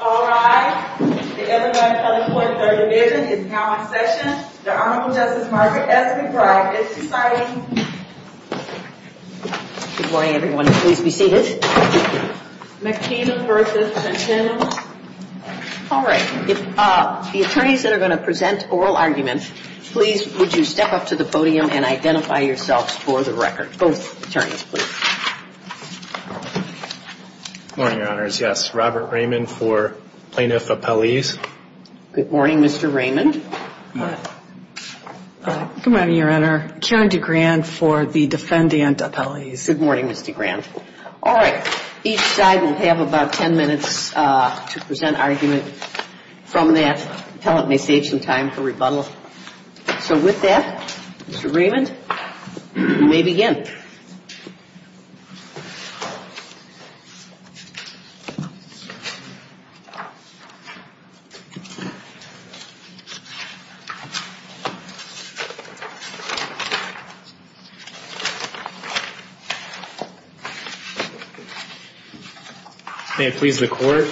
All rise. The evidence of the court's argument is now in session. The Honorable Justice Margaret Esquivel is deciding. Good morning, everyone. Please be seated. McKean v. Sessions All right. The attorneys that are going to present oral arguments, please, would you step up to the podium and identify yourselves for the record. Go ahead, attorney, please. Good morning, Your Honors. Yes, Robert Raymond for Plaintiff Appellees. Good morning, Mr. Raymond. Good morning, Your Honor. Karen DeGrand for the Defendant Appellees. Good morning, Mr. Grand. All right. Each side will have about 10 minutes to present arguments from that time for rebuttal. So with that, Mr. Raymond, you may begin. May it please the Court.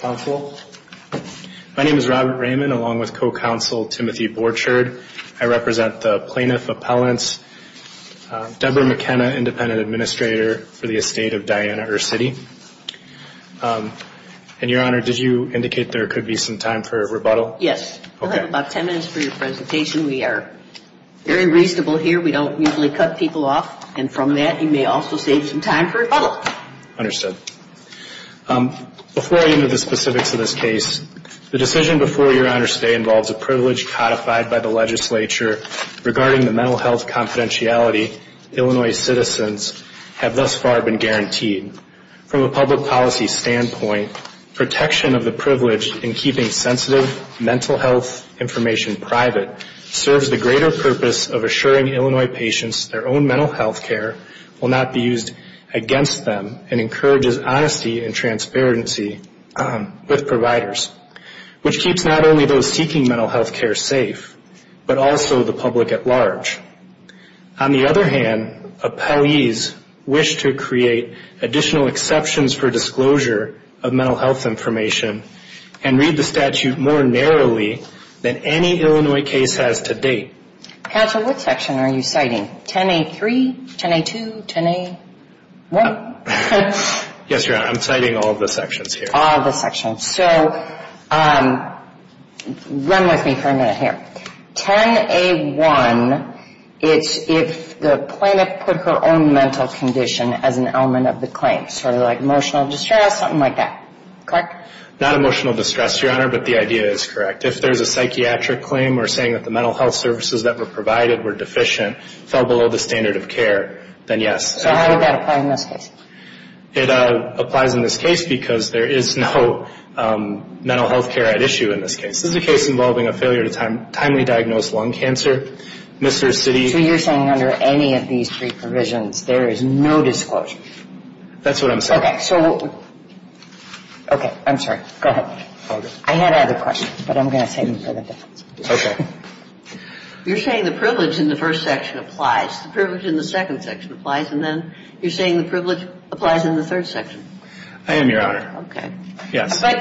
Counsel. My name is Robert Raymond, along with Co-Counsel Timothy Borchard. I represent the Plaintiff Appellants, Deborah McKenna, Independent Administrator for the Estate of Diana Urcity. And, Your Honor, did you indicate there could be some time for rebuttal? Yes. We'll have about 10 minutes for your presentation. We are very reasonable here. We don't usually cut people off. And from that, you may also save some time for rebuttal. Understood. Before I get into the specifics of this case, the decision before you, Your Honor, today involves a privilege codified by the legislature regarding the mental health confidentiality Illinois citizens have thus far been guaranteed. From a public policy standpoint, protection of the privilege in keeping sensitive mental health information private serves the greater purpose of assuring Illinois patients their own mental health care will not be used against them and encourages honesty and transparency with providers, which keeps not only those seeking mental health care safe, but also the public at large. On the other hand, appellees wish to create additional exceptions for disclosure of mental health information and read the statute more narrowly than any Illinois case has to date. Counsel, what section are you citing? 10A3? 10A2? 10A1? Yes, Your Honor. I'm citing all the sections here. So, run with me for a minute here. 10A1 is if the plaintiff put her own mental condition as an element of the claim. Sort of like emotional distress, something like that. Correct? Not emotional distress, Your Honor, but the idea is correct. If there's a psychiatric claim or saying that the mental health services that were provided were deficient, fell below the standard of care, then yes. How does that apply in this case? It applies in this case because there is no mental health care at issue in this case. This is a case involving a failure to timely diagnose lung cancer. So, you're saying under any of these three provisions, there is no disclosure? That's what I'm saying. Okay. I'm sorry. Go ahead. I had other questions, but I'm going to take them. Okay. You're saying the privilege in the first section applies, the privilege in the second section applies, and then you're saying the privilege applies in the third section? I am, Your Honor. Okay. Yes. But,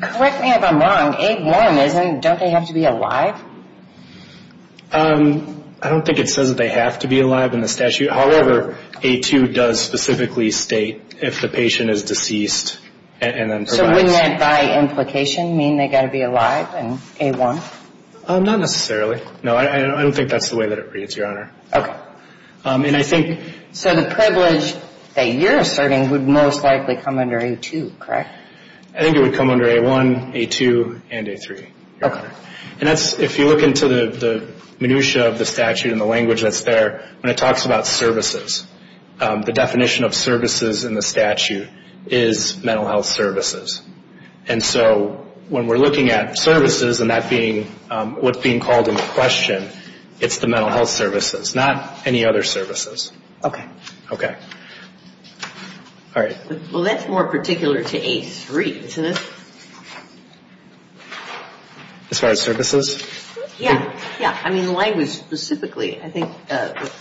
correct me if I'm wrong, A1 doesn't have to be alive? I don't think it says they have to be alive in the statute. However, A2 does specifically state if the patient is deceased. So, wouldn't that by implication mean they've got to be alive in A1? Not necessarily. No, I don't think that's the way that it reads, Your Honor. Okay. So, the privilege that you're asserting would most likely come under A2, correct? I think it would come under A1, A2, and A3. Okay. And that's, if you look into the minutia of the statute and the language that's there, when it talks about services, the definition of services in the statute is mental health services. And so, when we're looking at services and that being what's being called into question, it's the mental health services, not any other services. Okay. Okay. All right. Well, that's more particular to A3, isn't it? As far as services? Yeah. Yeah. I mean, the language specifically. I think what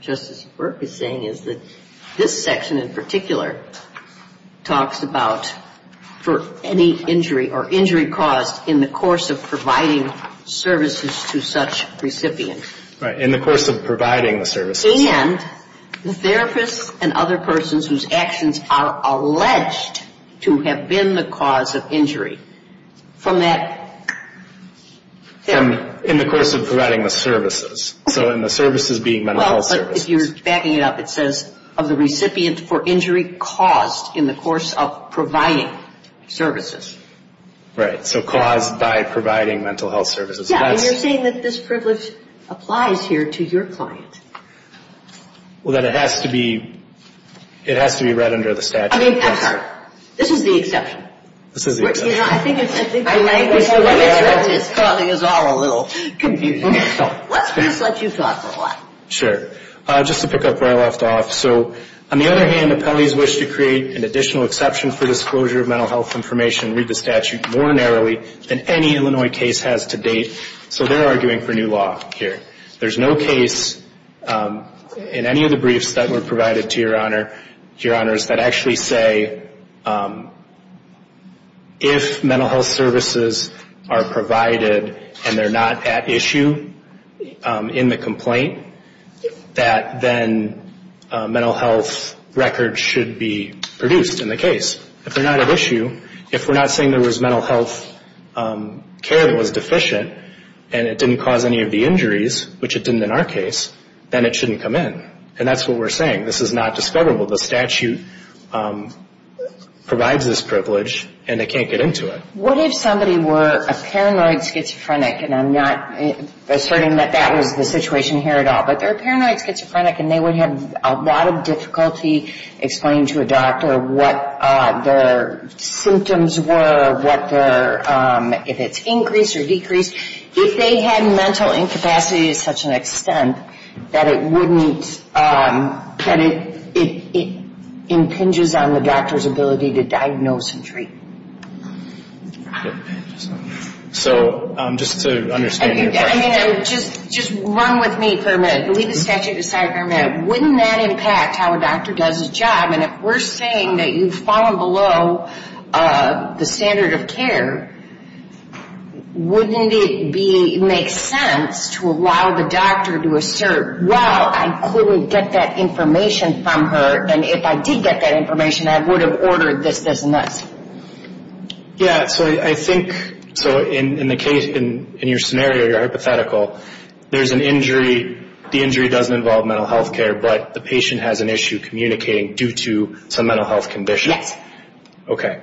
Justice Burke is saying is that this section in particular talks about for any injury or injury caused in the course of providing services to such recipients. Right, in the course of providing the services. And the therapist and other persons whose actions are alleged to have been the cause of injury from that therapy. In the course of providing the services. So, in the services being mental health services. Well, but if you're backing it up, it says of the recipients for injury caused in the course of providing services. Right. So, caused by providing mental health services. Yeah, and you're saying that this privilege applies here to your client. Well, that it has to be read under the statute. I mean, this is the exception. This is the exception. I think the language is causing us all a little confusion. Let's just let you talk for a while. Sure. Just to pick up where I left off. So, on the other hand, the penalties wish to create an additional exception for disclosure of mental health information and read the statute more narrowly than any Illinois case has to date. So, they're arguing for new law here. There's no case in any of the briefs that were provided to your honors that actually say, if mental health services are provided and they're not at issue in the complaint, that then mental health records should be produced in the case. If they're not at issue, if we're not saying there was mental health care that was deficient and it didn't cause any of the injuries, which it didn't in our case, then it shouldn't come in. And that's what we're saying. This is not discoverable. The statute provides this privilege and they can't get into it. What if somebody were a paranoid schizophrenic? And I'm not asserting that that would be the situation here at all. But they're a paranoid schizophrenic and they would have a lot of difficulty explaining to a doctor what their symptoms were, if it's increased or decreased. If they had mental incapacity to such an extent that it impinges on the doctor's ability to diagnose and treat. So, just to understand. I mean, just run with me for a minute. Wouldn't that impact how a doctor does his job? And if we're saying that you've fallen below the standard of care, wouldn't it make sense to allow the doctor to assert, well, I couldn't get that information from her and if I did get that information, I would have ordered this business. Yeah. So, in the case, in your scenario, your hypothetical, there's an injury. The injury doesn't involve mental health care, but the patient has an issue communicating due to some mental health condition. Yes. Okay.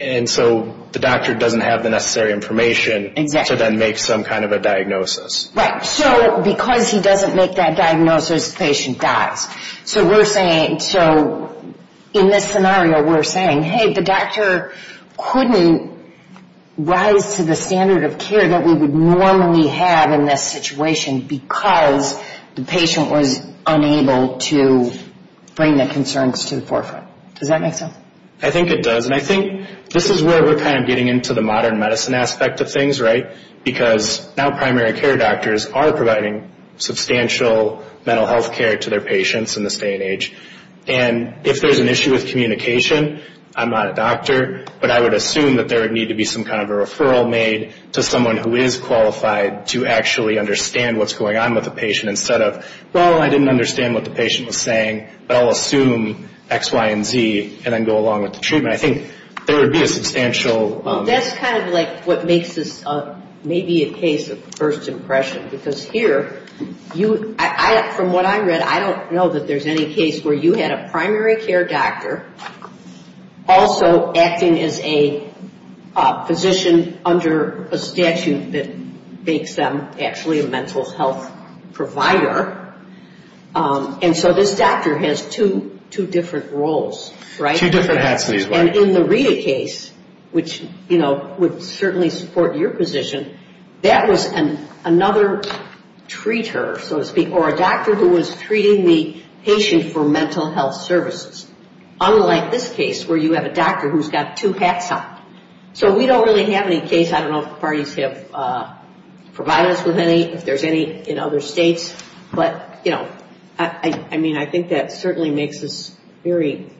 And so, the doctor doesn't have the necessary information to then make some kind of a diagnosis. Right. So, because he doesn't make that diagnosis, the patient dies. So, in this scenario, we're saying, hey, the doctor couldn't rise to the standard of care that we would normally have in this situation because the patient was unable to bring the concerns to the forefront. Does that make sense? I think it does. And I think this is where we're kind of getting into the modern medicine aspect of things, right? Because now primary care doctors are providing substantial mental health care to their patients in this day and age. And if there's an issue with communication, I'm not a doctor, but I would assume that there would need to be some kind of a referral made to someone who is qualified to actually understand what's going on with the patient instead of, well, I didn't understand what the patient was saying, but I'll assume X, Y, and Z and then go along with the treatment. I think there would be a substantial... Well, that's kind of like what makes this maybe a case of first impression. Because here, from what I read, I don't know that there's any case where you had a primary care doctor also acting as a physician under a statute that makes them actually a mental health provider. And so this doctor has two different roles, right? Two different activities. And in the Rita case, which, you know, would certainly support your position, that was another treater, so to speak, or a doctor who was treating the patient for mental health services. Unlike this case where you have a doctor who's got two hats on. So we don't really have any case, I don't know, parties for violence with any, if there's any in other states. But, you know, I mean, I think that certainly makes this very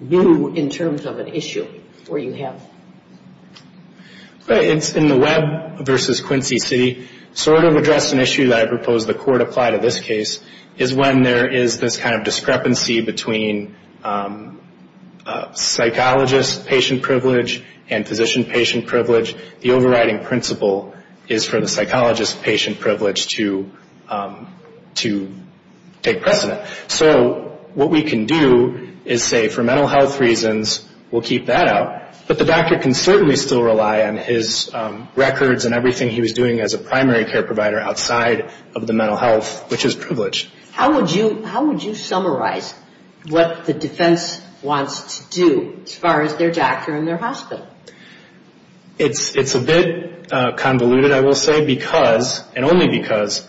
new in terms of an issue where you have... In the Webb versus Quincy City sort of address an issue that I propose the court apply to this case is when there is this kind of discrepancy between psychologist-patient privilege and physician-patient privilege. The overriding principle is for the psychologist-patient privilege to take precedent. So what we can do is say for mental health reasons, we'll keep that out. But the doctor can certainly still rely on his records and everything he was doing as a primary care provider outside of the mental health, which is privilege. How would you summarize what the defense wants to do as far as their doctor and their hospital? It's a bit convoluted, I will say, because, and only because,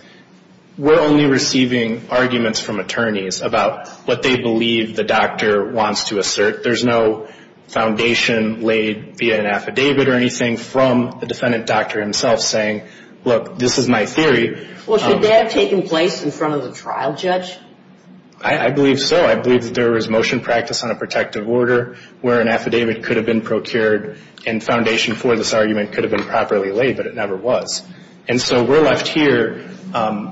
we're only receiving arguments from attorneys about what they believe the doctor wants to assert. There's no foundation laid via an affidavit or anything from the defendant doctor himself saying, look, this is my theory. Well, should that have taken place in front of the trial judge? I believe so. I believe that there was motion practice on a protective order where an affidavit could have been procured and foundation for this argument could have been properly laid, but it never was. And so we're left here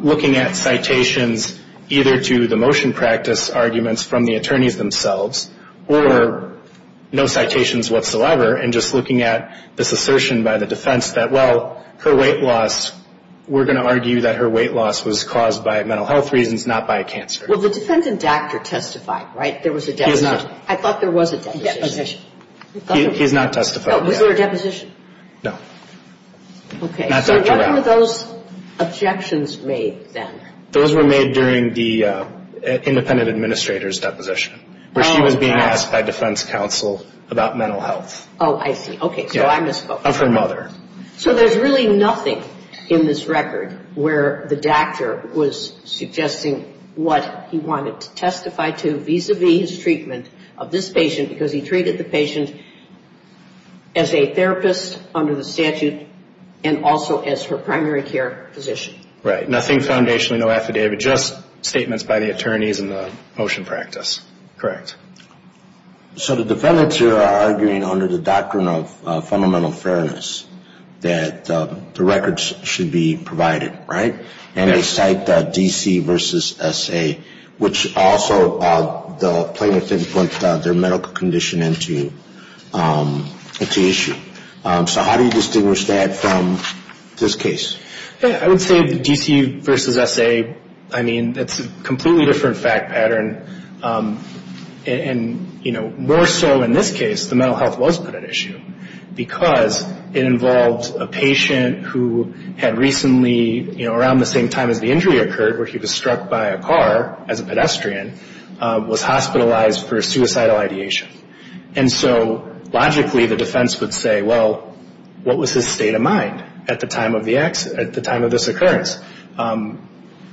looking at citations either to the motion practice arguments from the attorneys themselves or no citations whatsoever and just looking at this assertion by the defense that, well, her weight loss, we're going to argue that her weight loss was caused by mental health reasons, not by cancer. Well, the defendant doctor testified, right? There was a deposition. He did not. I thought there was a deposition. He did not testify. Oh, there was a deposition? No. Okay. So what were those objections made then? Those were made during the independent administrator's deposition where she was being asked by defense counsel about mental health. Oh, I see. Okay, so I misspoke. Of her mother. So there's really nothing in this record where the doctor was suggesting what he wanted to testify to vis-a-vis his treatment of this patient because he treated the patient as a therapist under the statute and also as her primary care physician. Right. Nothing foundational, no affidavit, just statements by the attorneys and the motion practice. Correct. So the defendants here are arguing under the doctrine of fundamental fairness that the records should be provided, right? And they cite the DC versus SA, which also the plaintiff put their medical condition into issue. So how do you distinguish that from this case? I would say the DC versus SA, I mean, that's a completely different fact pattern. And, you know, more so in this case the mental health was put in issue because it involves a patient who had recently, you know, around the same time as the injury occurred where he was struck by a car as a pedestrian, was hospitalized for suicidal ideation. And so logically the defense would say, well, what was his state of mind at the time of this occurrence?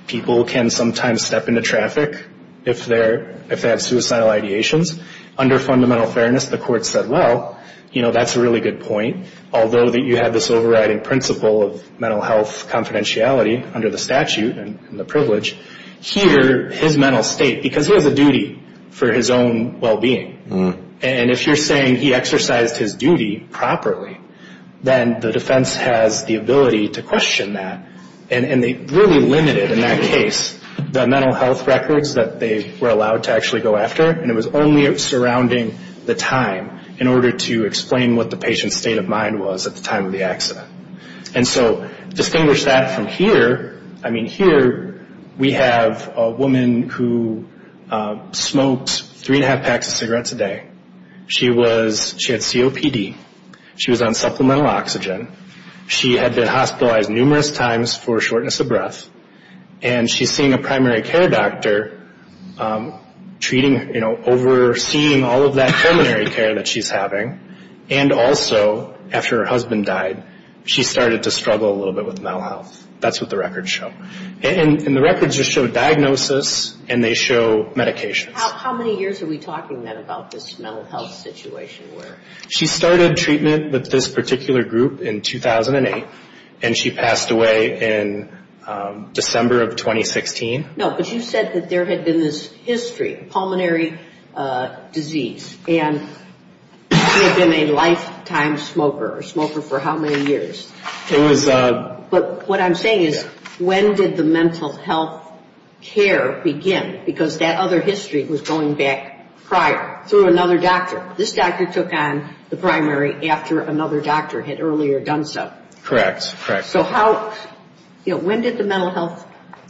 People can sometimes step into traffic if they have suicidal ideations. Under fundamental fairness, the court said, well, you know, that's a really good point, although you have this overriding principle of mental health confidentiality under the statute and the privilege. Here, his mental state, because he has a duty for his own well-being. And if you're saying he exercised his duty properly, then the defense has the ability to question that and they really limited in that case the mental health records that they were allowed to actually go after. And it was only surrounding the time in order to explain what the patient's state of mind was at the time of the accident. And so distinguish that from here, I mean, here we have a woman who smoked three and a half packs of cigarettes a day. She had COPD. She was on supplemental oxygen. She had been hospitalized numerous times for shortness of breath. And she had seen a primary care doctor treating, you know, overseeing all of that preliminary care that she's having. And also, after her husband died, she started to struggle a little bit with mental health. That's what the records show. And the records just show diagnosis and they show medication. How many years are we talking then about this mental health situation? She started treatment with this particular group in 2008 and she passed away in December of 2016. No, but you said that there had been this history of pulmonary disease and she had been a lifetime smoker, a smoker for how many years? But what I'm saying is when did the mental health care begin? Because that other history was going back prior through another doctor. This doctor took on the primary after another doctor had earlier done so. Correct, correct. So how, you know, when did the mental health,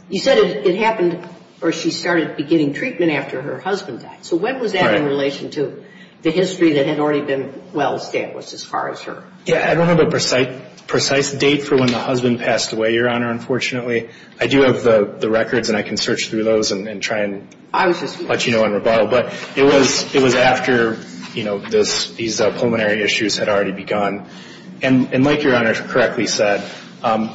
you said it happened where she started beginning treatment after her husband died. So when was that in relation to the history that had already been well established as far as her? Yeah, I don't have a precise date for when the husband passed away, Your Honor, unfortunately. I do have the records and I can search through those and try and let you know in rebuttal. But it was after, you know, these pulmonary issues had already begun. And like Your Honor correctly said,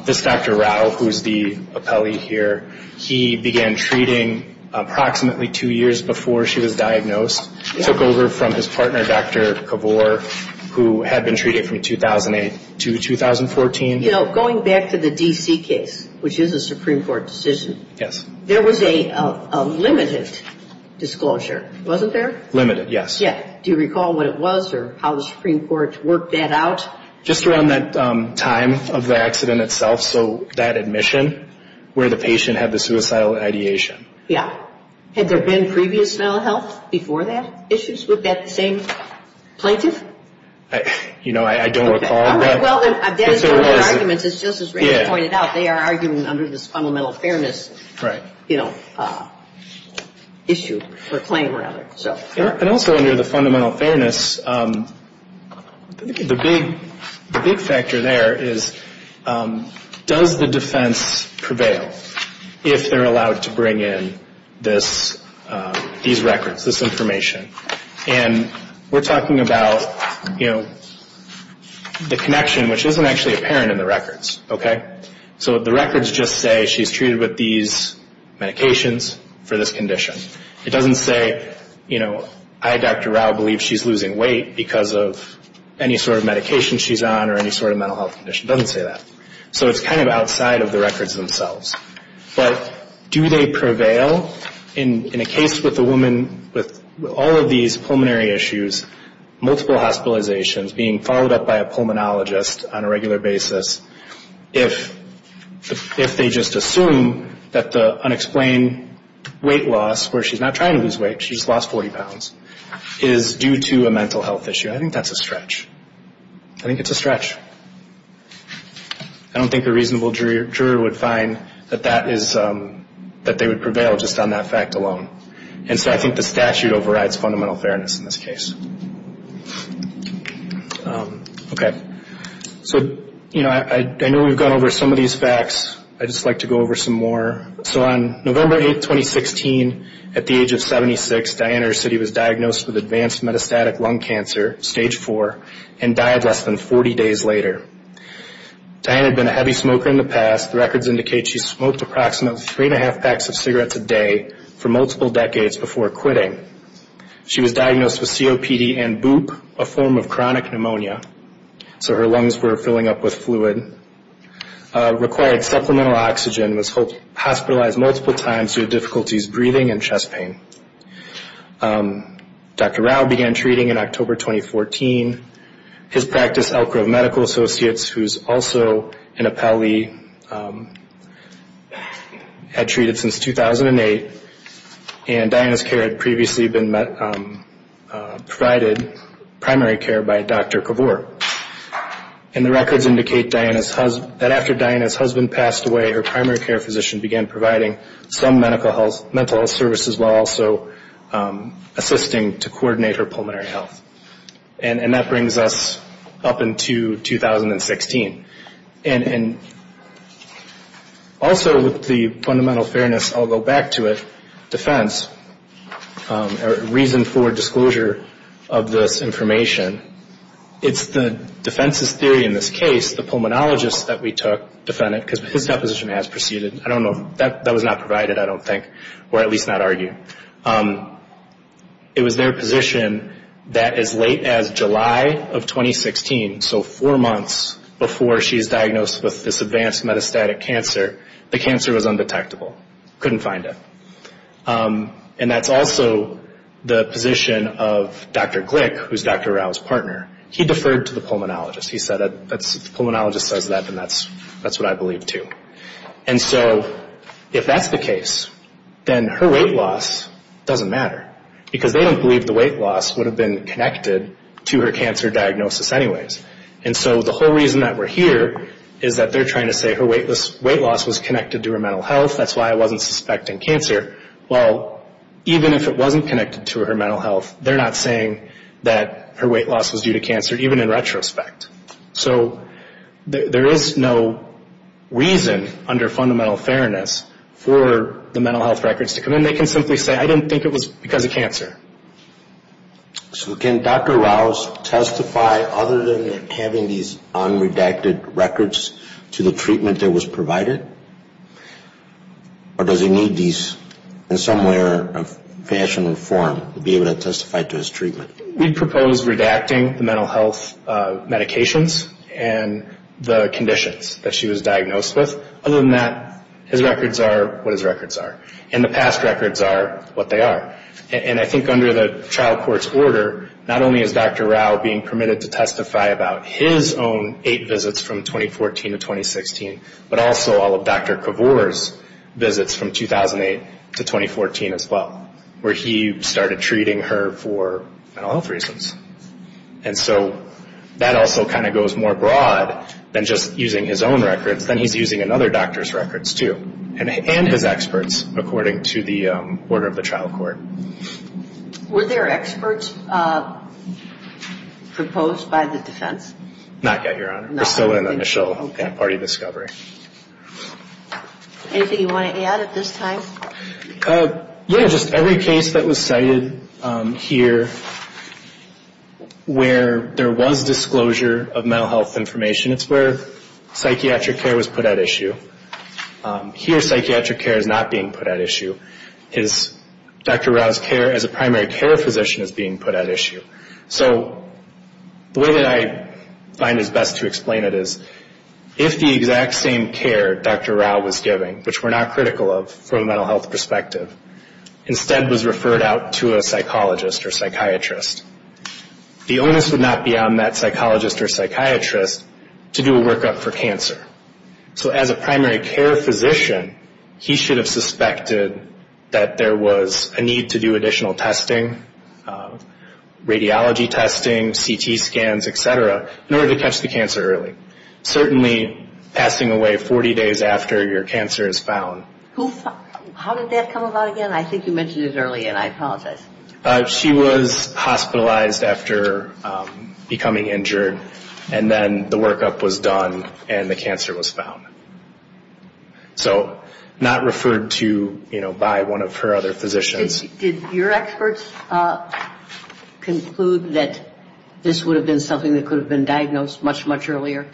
this Dr. Rattle, who is the appellee here, he began treating approximately two years before she was diagnosed. He took over from his partner, Dr. Kavor, who had been treated from 2008 to 2014. You know, going back to the D.C. case, which is a Supreme Court decision. Yes. There was a limited disclosure, wasn't there? Limited, yes. Yeah. Do you recall what it was or how the Supreme Court worked that out? Just around that time of the accident itself. So that admission where the patient had the suicidal ideation. Yeah. Had there been previous mental health before that issues with that same plaintiff? You know, I don't recall. All right. Well, I've done a series of arguments. It's just as Rachel pointed out. They are arguing under this fundamental fairness, you know, issue or claim, rather. And also under the fundamental fairness, the big factor there is does the defense prevail if they're allowed to bring in these records, this information? And we're talking about, you know, the connection, which isn't actually apparent in the records. Okay? So the records just say she's treated with these medications for this condition. It doesn't say, you know, I, Dr. Rao, believe she's losing weight because of any sort of medication she's on or any sort of mental health condition. It doesn't say that. So it's kind of outside of the records themselves. But do they prevail in a case with a woman with all of these pulmonary issues, multiple hospitalizations, being followed up by a pulmonologist on a regular basis, if they just assume that the unexplained weight loss, where she's not trying to lose weight, she's lost 40 pounds, is due to a mental health issue? I think that's a stretch. I think it's a stretch. I don't think a reasonable juror would find that they would prevail just on that fact alone. And so I think the statute overrides fundamental fairness in this case. Okay. So, you know, I know we've gone over some of these facts. I'd just like to go over some more. So on November 8, 2016, at the age of 76, Diane Ercity was diagnosed with advanced metastatic lung cancer, Stage 4, and died less than 40 days later. Diane had been a heavy smoker in the past. The records indicate she smoked approximately three and a half packs of cigarettes a day for multiple decades before quitting. She was diagnosed with COPD and BOOP, a form of chronic pneumonia. So her lungs were filling up with fluid. Required supplemental oxygen was hospitalized multiple times due to difficulties breathing and chest pain. Dr. Rao began treating in October 2014. His practice, Elk Grove Medical Associates, who's also an appellee, had treated since 2008, and Diane's care had previously been provided primary care by Dr. Kabur. And the records indicate that after Diane's husband passed away, her primary care physician began providing some mental health services while also assisting to coordinate her pulmonary health. And that brings us up into 2016. And also with the fundamental fairness, I'll go back to it, defense, or reason for disclosure of this information, it's the defense's theory in this case, the pulmonologist that we took, defendant, because his deposition has proceeded, I don't know, that was not provided, I don't think, or at least not argued. It was their position that as late as July of 2016, so four months before she was diagnosed with this advanced metastatic cancer, the cancer was undetectable. Couldn't find it. And that's also the position of Dr. Glick, who's Dr. Rao's partner. He deferred to the pulmonologist. He said, if the pulmonologist says that, then that's what I believe too. And so if that's the case, then her weight loss doesn't matter, because they don't believe the weight loss would have been connected to her cancer diagnosis anyways. And so the whole reason that we're here is that they're trying to say her weight loss was connected to her mental health, that's why I wasn't suspecting cancer. Well, even if it wasn't connected to her mental health, they're not saying that her weight loss was due to cancer, even in retrospect. So there is no reason under fundamental fairness for the mental health records to come in. They can simply say, I didn't think it was because of cancer. So can Dr. Rao testify, other than having these unredacted records, to the treatment that was provided? Or does he need these in some way or fashion or form to be able to testify to his treatment? We propose redacting the mental health medications and the conditions that she was diagnosed with. Other than that, his records are what his records are. And the past records are what they are. And I think under the trial court's order, not only is Dr. Rao being permitted to testify about his own eight visits from 2014 to 2016, but also all of Dr. Kavor's visits from 2008 to 2014 as well, where he started treating her for mental health reasons. And so that also kind of goes more broad than just using his own records. Then he's using another doctor's records too, and his experts, according to the order of the trial court. Were there experts proposed by the defense? Not yet, Your Honor. There's still an initial party discovery. Anything you want to add at this time? Yeah, just every case that was cited here where there was disclosure of mental health information, it's where psychiatric care was put at issue. Here psychiatric care is not being put at issue. Dr. Rao's care as a primary care physician is being put at issue. So the way that I find is best to explain it is if the exact same care Dr. Rao was giving, which we're not critical of from a mental health perspective, instead was referred out to a psychologist or psychiatrist, the onus would not be on that psychologist or psychiatrist to do a workup for cancer. So as a primary care physician, he should have suspected that there was a need to do additional testing, radiology testing, CT scans, et cetera, in order to test the cancer early, certainly passing away 40 days after your cancer is found. How did that come about again? I think you mentioned it earlier, and I apologize. She was hospitalized after becoming injured, and then the workup was done and the cancer was found. So not referred to by one of her other physicians. Did your experts conclude that this would have been something that could have been diagnosed much, much earlier?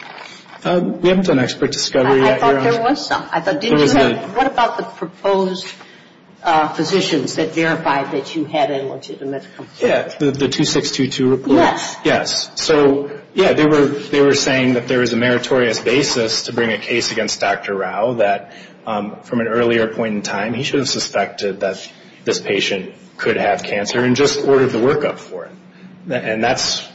We haven't done expert discovery yet. I thought there was some. What about the proposed physicians that verified that you had an illegitimate cancer? The 2622 report? Yes. Yes. So, yeah, they were saying that there was a meritorious basis to bring a case against Dr. Rao, that from an earlier point in time he should have suspected that this patient could have cancer and just ordered the workup for it. And that's...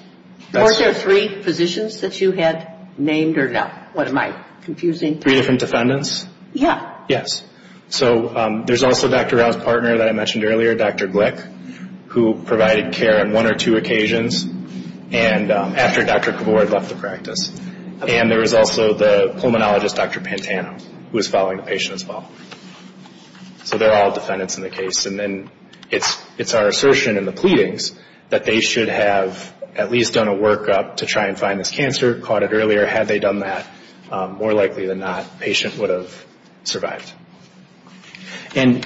Weren't there three physicians that you had named or not? What am I confusing? Three different defendants? Yeah. Yes. So there's also Dr. Rao's partner that I mentioned earlier, Dr. Glick, who provided care on one or two occasions after Dr. Kavor had left the practice. And there was also the pulmonologist, Dr. Pantano, who was following the patient as well. So they're all defendants in the case. And then it's our assertion in the pleadings that they should have at least done a workup to try and find this cancer, caught it earlier. Had they done that, more likely than not, the patient would have survived. And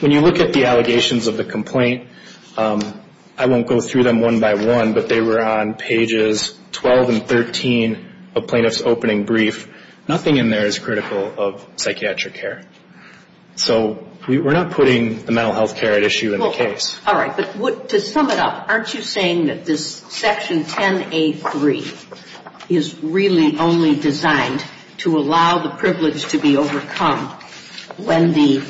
when you look at the allegations of the complaint, I won't go through them one by one, but they were on pages 12 and 13 of plaintiff's opening brief. Nothing in there is critical of psychiatric care. So we're not putting the mental health care at issue in the case. All right. To sum it up, aren't you saying that this Section 10A3 is really only designed to allow the privilege to be overcome when the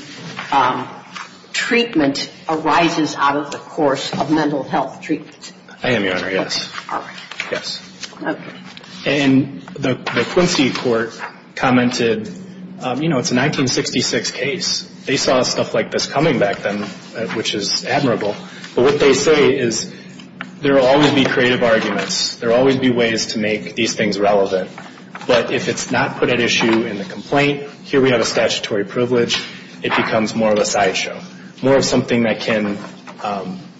treatment arises out of the course of mental health treatment? I am, Your Honor. Yes. All right. Yes. And the Quincy Court commented, you know, it's a 1966 case. They saw stuff like this coming back then, which is admirable. But what they say is there will always be creative arguments. There will always be ways to make these things relevant. But if it's not put at issue in the complaint, here we have a statutory privilege. It becomes more of a sideshow, more of something that can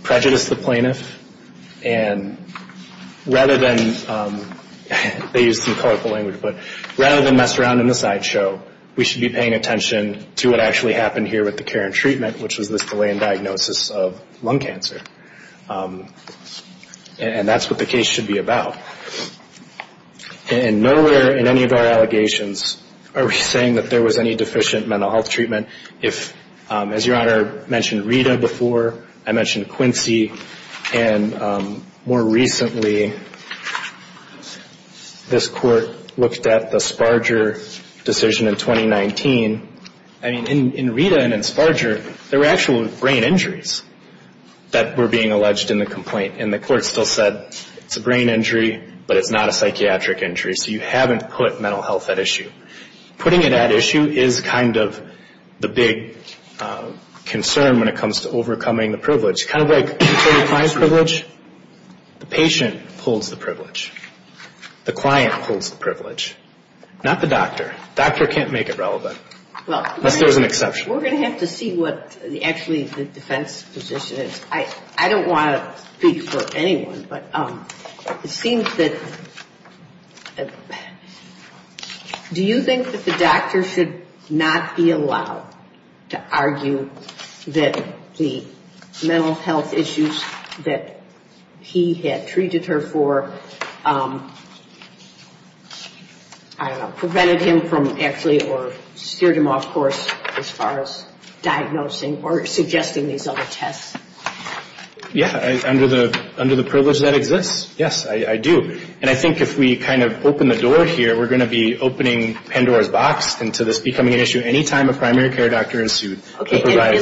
prejudice the plaintiff. And rather than, they used some colorful language, but rather than mess around in the sideshow, we should be paying attention to what actually happened here with the care and treatment, which was the delay in diagnosis of lung cancer. And that's what the case should be about. And nowhere in any of our allegations are we saying that there was any deficient mental health treatment. If, as Your Honor mentioned Rita before, I mentioned Quincy, and more recently this court looked at the Sparger decision in 2019. In Rita and in Sparger, there were actual brain injuries that were being alleged in the complaint. And the court still said it's a brain injury, but it's not a psychiatric injury. So you haven't put mental health at issue. Putting it at issue is kind of the big concern when it comes to overcoming the privilege. Kind of like controlling a client's privilege. The patient pulls the privilege. The client pulls the privilege. Not the doctor. The doctor can't make it relevant. Unless there's an exception. We're going to have to see what actually the defense position is. I don't want to speak for anyone, but it seems that... Do you think that the doctor should not be allowed to argue that the mental health issues that he had treated her for prevented him from actually or steered him off course as far as diagnosing or suggesting these other tests? Yeah, under the privilege that exists, yes, I do. And I think if we kind of open the door here, we're going to be opening Pandora's box into this becoming an issue any time a primary care doctor is to provide...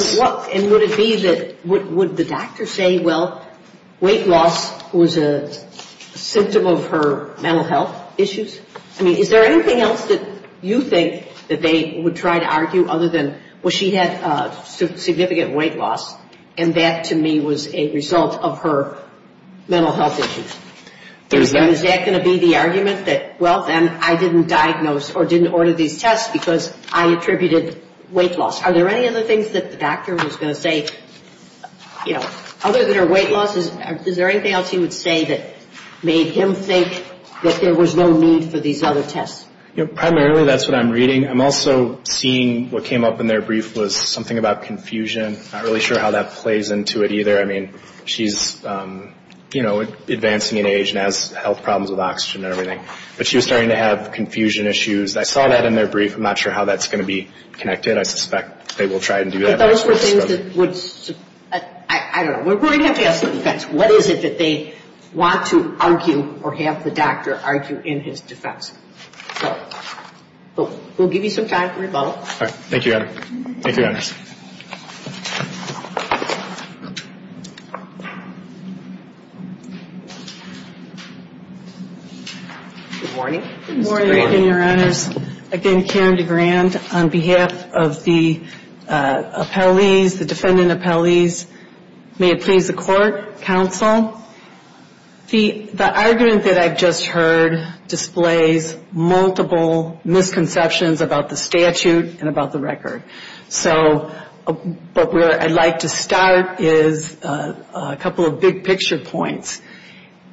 And would it be that... Would the doctor say, well, weight loss was a symptom of her mental health issues? I mean, is there anything else that you think that they would try to argue other than, well, she had significant weight loss, and that, to me, was a result of her mental health issues? And is that going to be the argument that, well, then I didn't diagnose or didn't order these tests because I attributed weight loss? Are there any other things that the doctor was going to say? Other than her weight loss, is there anything else you would say that made him think that there was no need for these other tests? Primarily, that's what I'm reading. I'm also seeing what came up in their brief was something about confusion. I mean, she's, you know, advancing in age and has health problems with oxygen and everything. But she was starting to have confusion issues. I saw that in their brief. I'm not sure how that's going to be connected. I suspect they will try and do that. I don't know. We're going to have to ask the defense. What is it that they want to argue or have the doctor argue in his defense? So, we'll give you some time for rebuttal. Thank you, Adam. Thank you, Adam. Good morning. Good morning, Your Honor. Again, Karen DeGrand on behalf of the appellees, the defendant appellees. May it please the court, counsel. The argument that I just heard displays multiple misconceptions about the statute and about the record. So, where I'd like to start is a couple of big picture points.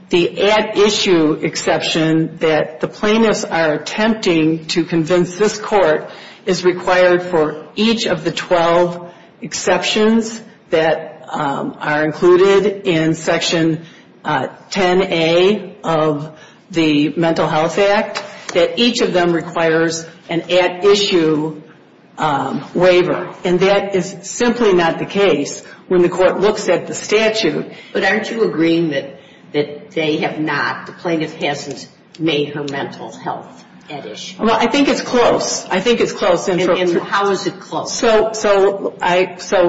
The at-issue exception that the plaintiffs are attempting to convince this court is required for each of the 12 exceptions that are included in Section 10A of the Mental Health Act, that each of them requires an at-issue waiver. And that is simply not the case. When the court looks at the statute. But aren't you agreeing that they have not, the plaintiff hasn't made her mental health at-issue? Well, I think it's close. I think it's close. And how is it close? So,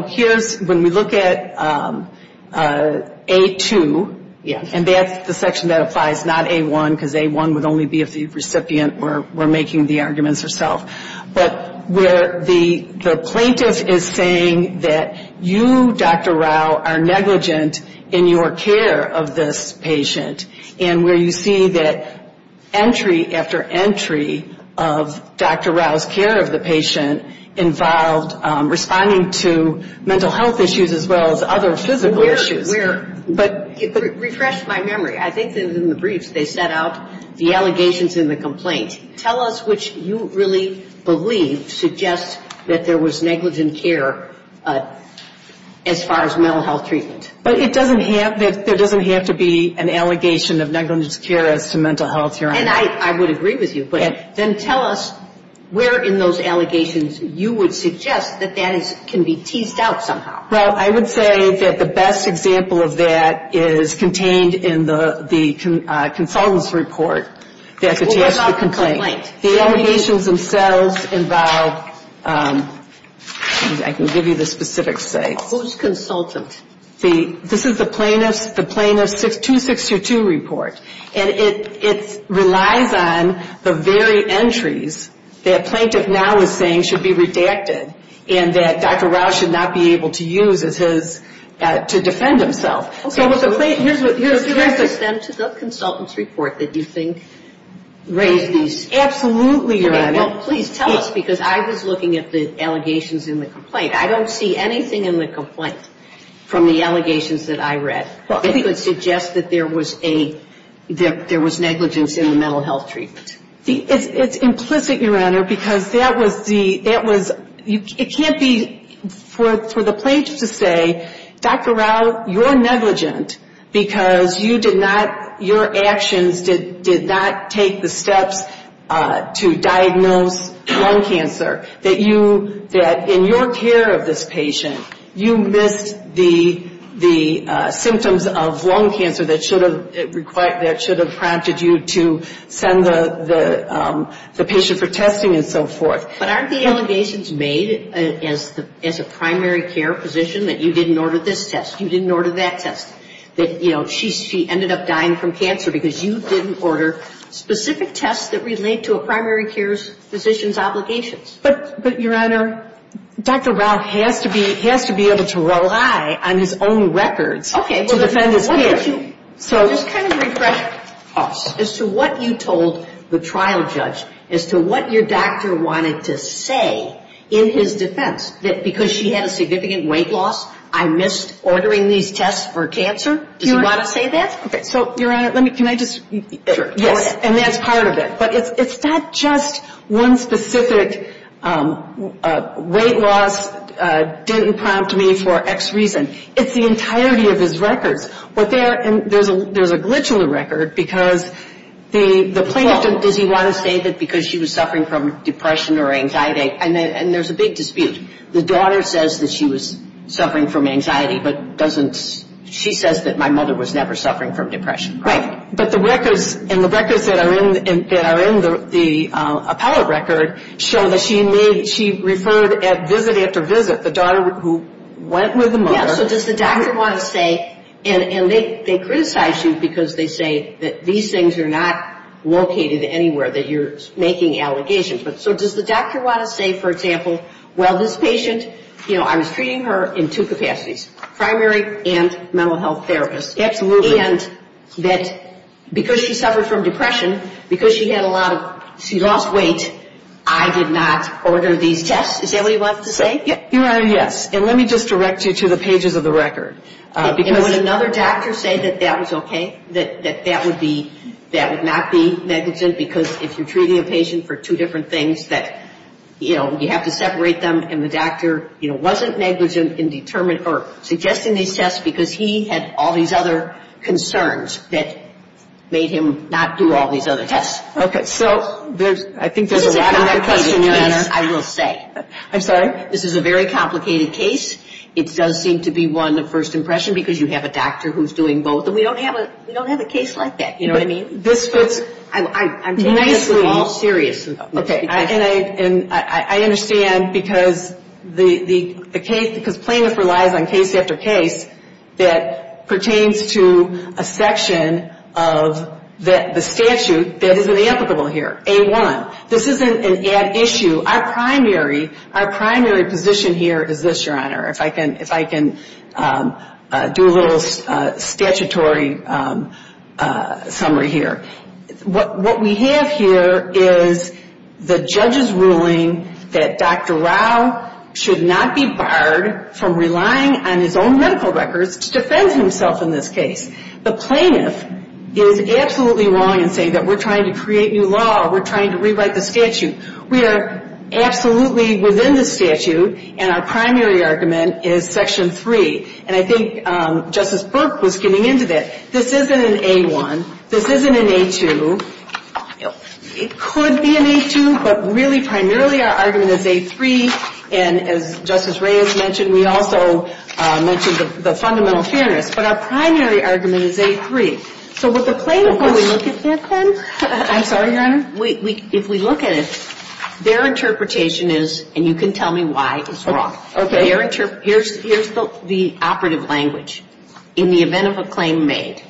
here's when we look at A2. Yes. And that's the section that applies, not A1, because A1 would only be if the recipient were making the arguments herself. But where the plaintiff is saying that you, Dr. Rao, are negligent in your care of this patient. And where you see that entry after entry of Dr. Rao's care of the patient involved responding to mental health issues as well as other physical issues. But refresh my memory. I think that in the brief they set out the allegations and the complaints. And tell us which you really believe suggests that there was negligent care as far as mental health treatment. But it doesn't have, there doesn't have to be an allegation of negligent care to mental health care. And I would agree with you. But then tell us where in those allegations you would suggest that that can be teased out somehow. Well, I would say that the best example of that is contained in the consultant's report that contains the complaint. The allegations themselves involve, I can give you the specific state. Who's consultant? See, this is the plaintiff's 262 report. And it relies on the very entries that plaintiff now is saying should be redacted. And that Dr. Rao should not be able to use to defend himself. Okay. Here's the consensus of consultant's report that you think raises. Absolutely. Please tell us because I was looking at the allegations in the complaint. I don't see anything in the complaint from the allegations that I read. I think it would suggest that there was negligence in the mental health treatment. It's implicit, Your Honor, because that was the, it can't be for the plaintiff to say, Dr. Rao, you're negligent because you did not, your actions did not take the steps to diagnose lung cancer. That in your care of this patient, you missed the symptoms of lung cancer that should have prompted you to send the patient for testing and so forth. But aren't the allegations made as a primary care physician that you didn't order this test? You didn't order that test? That, you know, she ended up dying from cancer because you didn't order specific tests that relate to a primary care physician's obligations? But, Your Honor, Dr. Rao has to be able to rely on his own records to defend his case. Okay. Just kind of refresh us as to what you told the trial judge, as to what your doctor wanted to say in his defense. That because she had a significant weight loss, I missed ordering these tests for cancer? Do you want to say that? Okay. So, Your Honor, let me, can I just, and that's part of it. But it's not just one specific weight loss didn't prompt me for X reason. It's the entirety of his records. But there's a glitch in the record because the plaintiff, does he want to say that because she was suffering from depression or anxiety? And there's a big dispute. The daughter says that she was suffering from anxiety, but doesn't, she says that my mother was never suffering from depression. Right. But the records, and the records that are in the Apollo record show that she referred at visit after visit, the daughter who went with the mother. So does the doctor want to say, and they criticize you because they say that these things are not located anywhere, that you're making allegations. But so does the doctor want to say, for example, well, this patient, you know, I was treating her in two capacities, primary and mental health therapist. Absolutely. And that because she suffered from depression, because she had a lot of, she lost weight, I did not order these tests. Is that what he wants to say? Your Honor, yes. And let me just direct you to the pages of the record. And would another doctor say that that was okay, that that would be, that would not be negligent because if you're treating a patient for two different things that, you know, you have to separate them, and the doctor, you know, wasn't negligent in determining or suggesting these tests because he had all these other concerns that made him not do all these other tests. Okay. So there's, I think there's another question, Your Honor. I will say. I'm sorry? This is a very complicated case. It does seem to be one of first impression because you have a doctor who's doing both. And we don't have a case like that. You know what I mean? I'm taking this all seriously. Okay. And I understand because the case, because plaintiff relies on case after case that pertains to a section of the statute that is inapplicable here, A1. This isn't an ad issue. Our primary position here is this, Your Honor, if I can do a little statutory summary here. What we have here is the judge's ruling that Dr. Rao should not be barred from relying on his own medical records to defend himself in this case. The plaintiff is absolutely wrong in saying that we're trying to create new law. We're trying to rewrite the statute. We are absolutely within the statute. And our primary argument is Section 3. And I think Justice Brooks was getting into this. This isn't an A1. This isn't an A2. It could be an A2, but really primarily our argument is A3. And as Justice Reyes mentioned, we also mentioned the fundamental fairness. But our primary argument is A3. So with the plaintiff, if we look at it, their interpretation is, and you can tell me why it's wrong. Here's the operative language. In the event of a claim made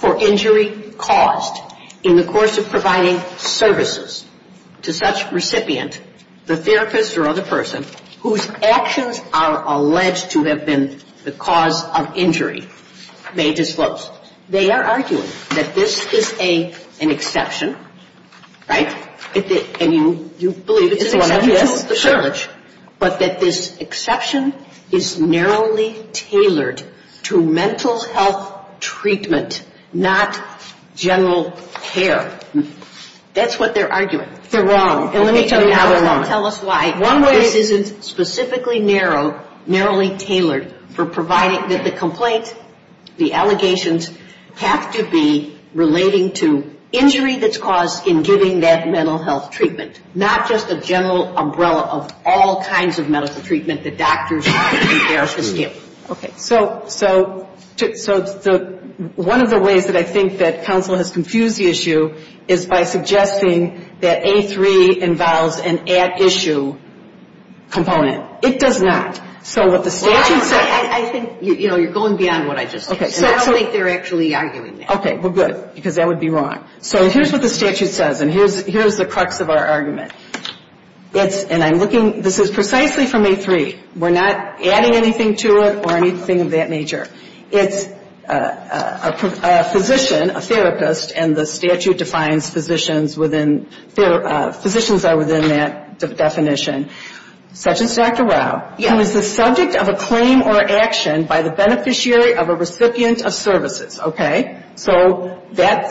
for injury caused in the course of providing services to such recipient, the therapist or other person, whose actions are alleged to have been the cause of injury, may disclose. They are arguing that this is an exception, right? And you believe it is an exception. Sure. But that this exception is narrowly tailored to mental health treatment, not general care. That's what they're arguing. They're wrong. And let me tell you now why. Tell us why. One, it is specifically narrowly tailored for providing that the complaint, the allegations, have to be relating to injury that's caused in giving that mental health treatment, not just the general umbrella of all kinds of medical treatment that doctors and therapists do. Okay. So one of the ways that I think that counsel has confused the issue is by suggesting that A3 involves an at issue component. It does not. I think you're going beyond what I just said. I don't think they're actually arguing that. Okay. Well, good, because that would be wrong. So here's what the statute says, and here's the crux of our argument. And I'm looking, this is precisely from A3. We're not adding anything to it or anything of that nature. It's a physician, a therapist, and the statute defines physicians within, physicians are within that definition. Such as Dr. Rao, who is the subject of a claim or action by the beneficiary of a recipient of services. Okay. So they're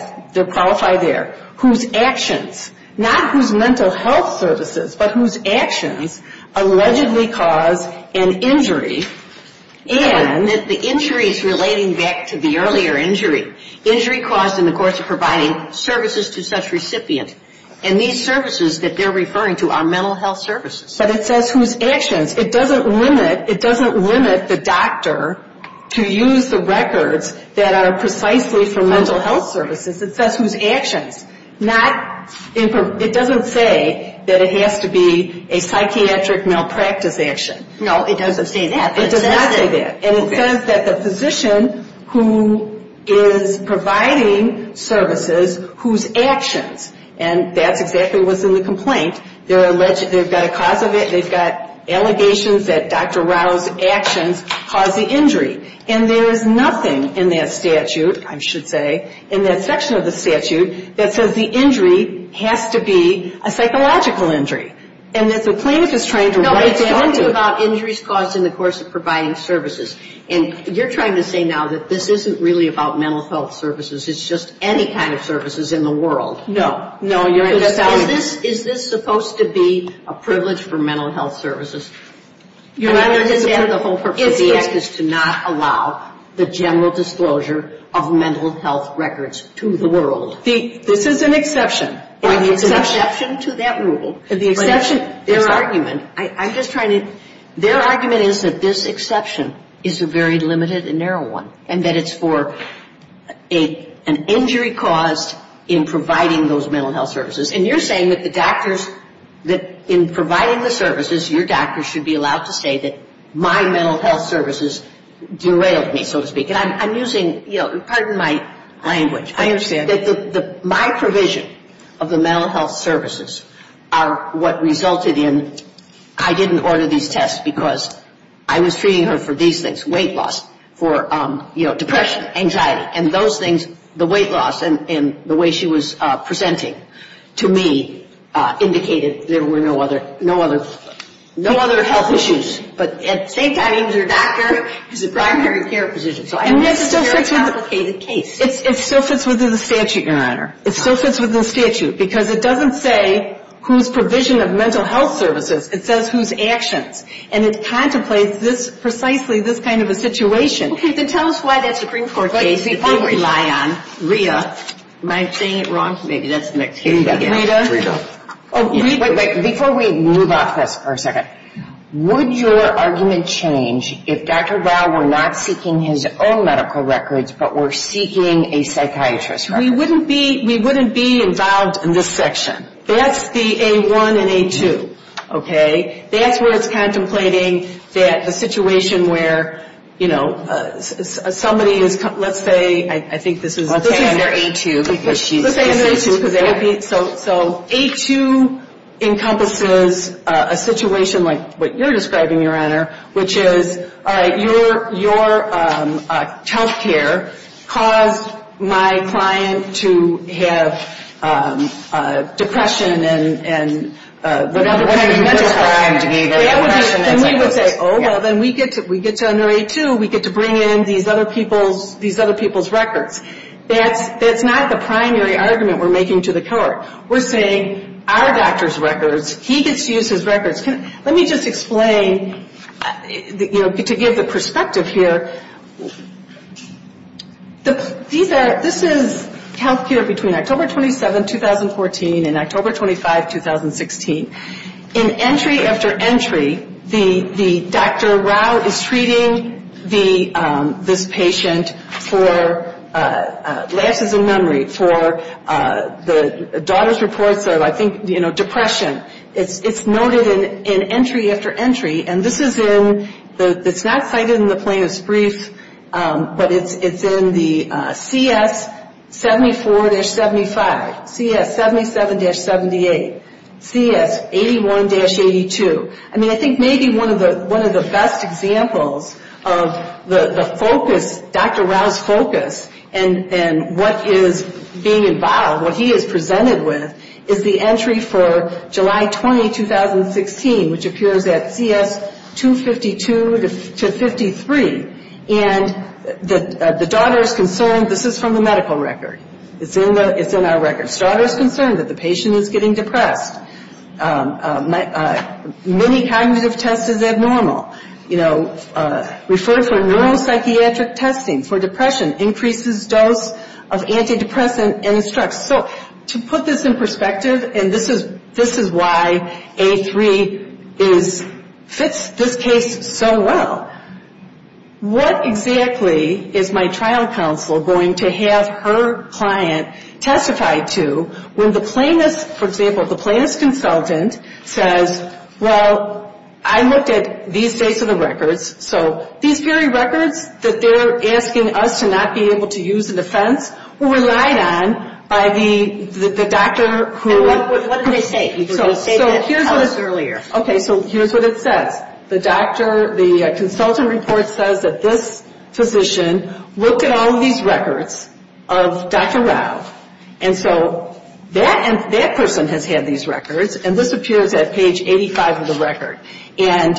qualified there. Whose actions, not whose mental health services, but whose actions allegedly cause an injury, and the injury is relating back to the earlier injury. Injury caused in the course of providing services to such recipients. And these services that they're referring to are mental health services. But it says whose actions. It doesn't limit the doctor to use the records that are precisely for mental health services. It says whose actions. It doesn't say that it has to be a psychiatric malpractice action. No, it doesn't say that. It does not say that. And it says that the physician who is providing services, whose actions. And that's exactly what's in the complaint. They've got allegations that Dr. Rao's actions caused the injury. And there is nothing in that statute, I should say, in that section of the statute, that says the injury has to be a psychological injury. And that the plaintiff is trying to- No, it's only about injuries caused in the course of providing services. And you're trying to say now that this isn't really about mental health services. It's just any kind of services in the world. No. Is this supposed to be a privilege for mental health services? It is to not allow the general disclosure of mental health records to the world. This is an exception. It's an exception to that rule. Their argument is that this exception is a very limited and narrow one. And that it's for an injury caused in providing those mental health services. And you're saying that the doctors-that in providing the services, your doctors should be allowed to say that my mental health services derailed me, so to speak. And I'm using-pardon my language. I understand. My provision of the mental health services are what resulted in-I didn't order these tests because I was treating her for these things-weight loss, depression, anxiety. And those things, the weight loss and the way she was presenting to me, indicated there were no other health issues. But at the same time, she's a doctor. She's a primary care physician. And this is a very complicated case. It still fits within the statute, Your Honor. It still fits within the statute because it doesn't say whose provision of mental health services. It says whose actions. And it contemplates this-precisely this kind of a situation. Okay. Then tell us why that Supreme Court case is being relied on. Rhea. Am I saying it wrong? Maybe that's mixed. Rhea. Rhea. Before we move off this for a second, would your argument change if Dr. Dow were not seeking his own medical records but were seeking a psychiatrist's records? We wouldn't be involved in this section. That's the A-1 and A-2. Okay. That's where it's contemplating that a situation where, you know, somebody is-let's say-I think this is- Let's say they're A-2. Let's say they're A-2. So A-2 encompasses a situation like what you're describing, Your Honor, which is your health care caused my client to have depression and whatever kind of mental health. And we would say, Oh, well, then we get to under A-2. We get to bring in these other people's records. That's not the primary argument we're making to the court. We're saying our doctor's records, he just used his records. Let me just explain, you know, to give the perspective here. This is health care between October 27, 2014, and October 25, 2016. In entry after entry, the Dr. Rao is treating this patient for lack of a memory, for the daughter's reports of, I think, you know, depression. It's noted in entry after entry, and this is in-it's not cited in the plaintiff's brief, but it's in the CS-74-75, CS-77-78, CS-81-82. I mean, I think maybe one of the best examples of the focus, Dr. Rao's focus, and what is being involved, what he is presented with, is the entry for July 20, 2016, which appears at CS-252-53, and the daughter is concerned. This is from the medical record. It's in our records. The daughter is concerned that the patient is getting depressed. Many cognitive tests is abnormal. You know, results from neuropsychiatric testing for depression increases dose of antidepressant and stress. So to put this in perspective, and this is why A3 fits this case so well, what exactly is my trial counsel going to have her client testify to when the plaintiff, for example, the plaintiff's consultant says, well, I looked at these dates of the records, so these very records that they're asking us to not be able to use in defense were relied on by the doctor who- And what did they say? You were going to say that earlier. Okay, so here's what it said. The doctor, the consultant report says that this physician looked at all of these records of Dr. Rao, and so that person has had these records, and this appears at page 85 of the record. And,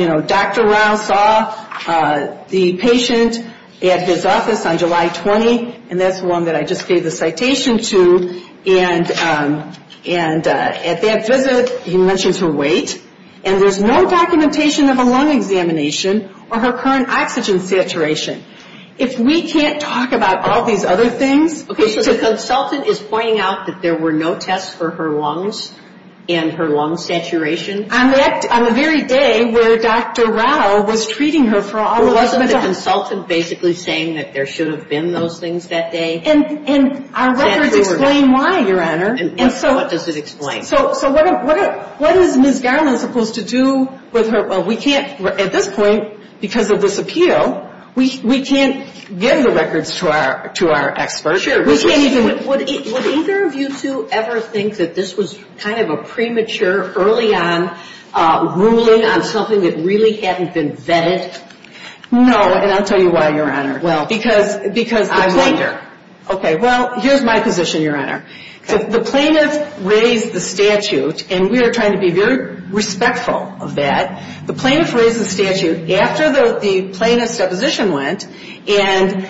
you know, Dr. Rao saw the patient at his office on July 20th, and that's the one that I just gave the citation to, and at that visit he mentioned her weight, and there's no documentation of a lung examination or her current oxygen saturation. If we can't talk about all these other things- Okay, so the consultant is pointing out that there were no tests for her lungs and her lung saturation? On the very day where Dr. Rao was treating her for all of those- So the consultant's basically saying that there should have been those things that day? And our records explain why, Your Honor. What does it explain? So what is Ms. Downer supposed to do with her- Well, we can't, at this point, because of this appeal, we can't give the records to our experts. Would either of you two ever think that this was kind of a premature, early on, ruling on something that really hadn't been vetted? No, and I'll tell you why, Your Honor, because- I wonder. Okay, well, here's my position, Your Honor. The plaintiff raised the statute, and we are trying to be very respectful of that. The plaintiff raised the statute after the plaintiff's deposition went, and,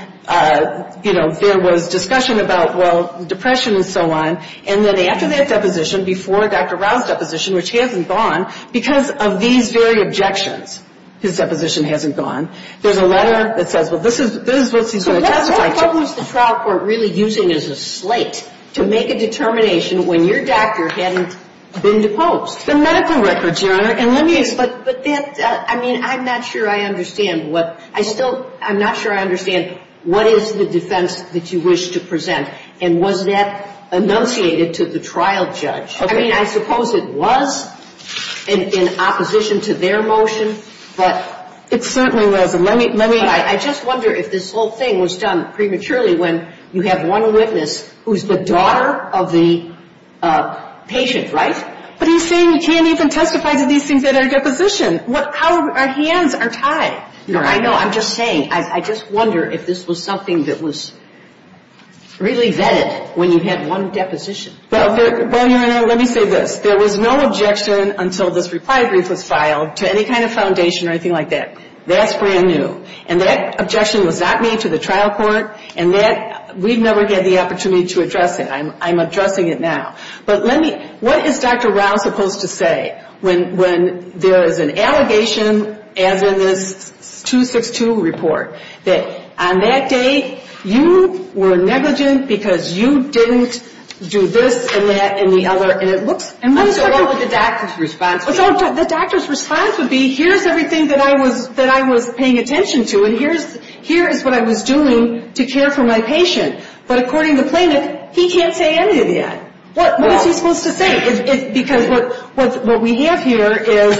you know, there was discussion about, well, depression and so on, and then after that deposition, before Dr. Rao's deposition, which hasn't gone, because of these very objections, his deposition hasn't gone, there's a letter that says, well, this is- So what was the trial court really using as a slate to make a determination when your doctor hadn't been deposed? The medical records, Your Honor, and let me- But that- I mean, I'm not sure I understand what- I still- I'm not sure I understand what is the defense that you wish to present, and was that enunciated to the trial judge? I mean, I suppose it was, in opposition to their motion, but- I wonder if this whole thing was done prematurely when you have one witness who's the daughter of the patient, right? What are you saying? You can't even testify to these things in our deposition. What- How- Our hands are tied. Your Honor, I know. I'm just saying. I just wonder if this was something that was really vetted when you had one deposition. But, Your Honor, let me say this. There was no objection until this reprisal was filed to any kind of foundation or anything like that. That's brand new. And that objection was not made to the trial court. And that- We've never had the opportunity to address it. I'm addressing it now. But let me- What is Dr. Rao supposed to say when there's an allegation, as in this 262 report, that on that day you were negligent because you didn't do this and that and the other- And what is the role of the doctor's response to that? The doctor's response would be, here's everything that I was paying attention to, and here is what I was doing to care for my patient. But according to plaintiff, he can't say anything yet. What is he supposed to say? Because what we have here is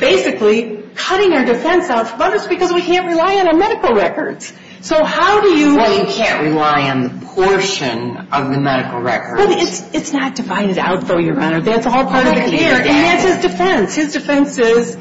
basically cutting our defense out from us because we can't rely on a medical record. So how do you- We can't rely on a portion of the medical record. But it's not divided out, though, Your Honor. That's a whole part of it here. And that's his defense. His defense is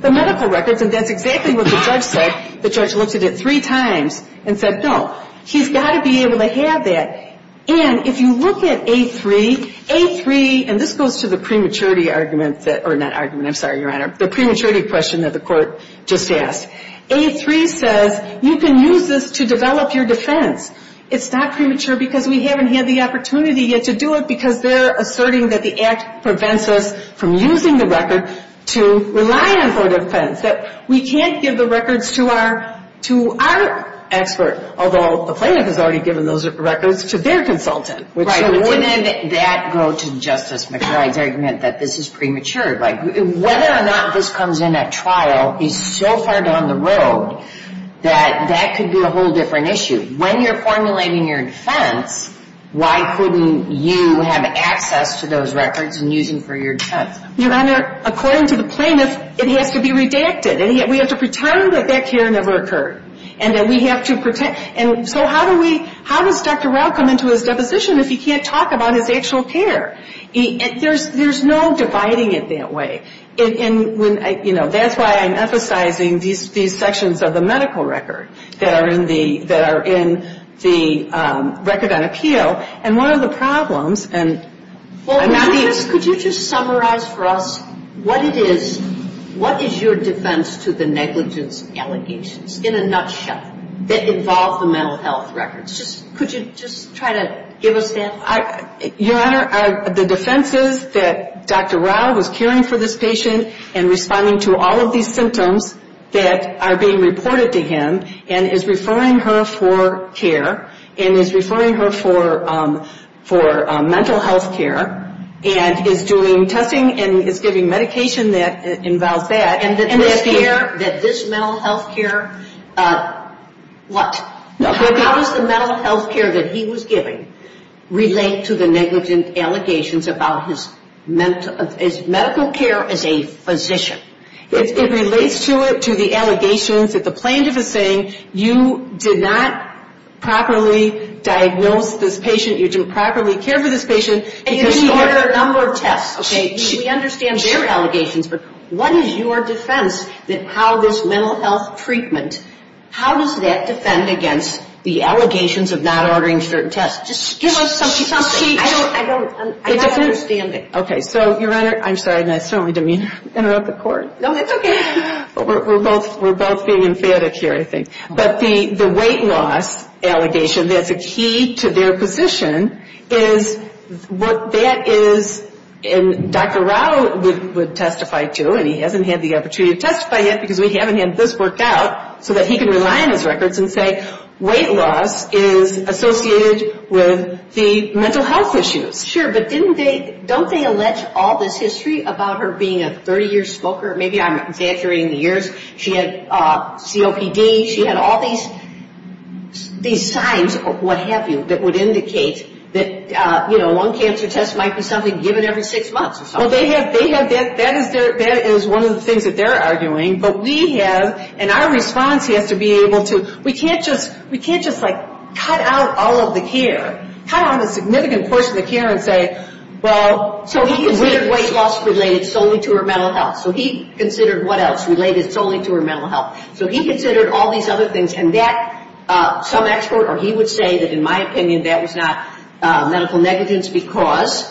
the medical record. And that's exactly what the judge said. The judge looked at it three times and said, no, he's got to be able to have that. And if you look at A3, A3- And this goes to the prematurity argument that- or not argument, I'm sorry, Your Honor, the prematurity question that the court just asked. A3 says you can use this to develop your defense. It's not premature because we haven't had the opportunity yet to do it because they're asserting that the act prevents us from using the records to rely on for defense, that we can't give the records to our expert, although the plaintiff has already given those records to their consultant. Right. And then that goes to Justice McBride's argument that this is premature. Whether or not this comes in at trial is so far down the road that that could be a whole different issue. When you're formulating your defense, why couldn't you have access to those records and use them for your defense? Your Honor, according to the plaintiff, it has to be redacted, and we have to pretend that that care never occurred and that we have to pretend- and so how does Dr. Roth come into his deposition if he can't talk about his actual care? There's no dividing it that way. That's why I'm emphasizing these sections of the medical record that are in the record on appeal, and one of the problems- Could you just summarize for us what is your defense to the negligence allegations, in a nutshell, that involve the mental health records? Could you just try to give us that? Your Honor, the defenses that Dr. Rao was caring for this patient and responding to all of these symptoms that are being reported to him and is referring her for care and is referring her for mental health care and is doing testing and is giving medication that involves that- And the care that this mental health care- What? How does the mental health care that he was giving relate to the negligence allegations about his medical care as a physician? It relates to it, to the allegations that the plaintiff is saying, you did not properly diagnose this patient, you didn't properly care for this patient- And he did a number of tests, okay? We understand their allegations, but what is your defense that how this mental health treatment- against the allegations of not ordering certain tests? Just give us something. I don't understand it. Okay, so, Your Honor- I'm sorry, I'm sorry to interrupt the court. No, it's okay. We're both being emphatic here, I think. But the weight loss allegations, that's a key to their position, is what that is- And Dr. Rao would testify, too, and he hasn't had the opportunity to testify yet because we haven't had this worked out so that he can rely on his records and say weight loss is associated with the mental health issues. Sure, but don't they allege all this history about her being a 30-year smoker? Maybe I'm exaggerating the years. She had COPD, she had all these signs, what have you, that would indicate that one cancer test might be something given every six months. Well, that is one of the things that they're arguing, but we have, and our response has to be able to-we can't just, like, cut out all of the care. Cut out a significant portion of the care and say, well, so he considered weight loss related solely to her mental health. So he considered what else related solely to her mental health. So he considered all these other things. And that, some expert, or he would say that, in my opinion, that is not medical negligence because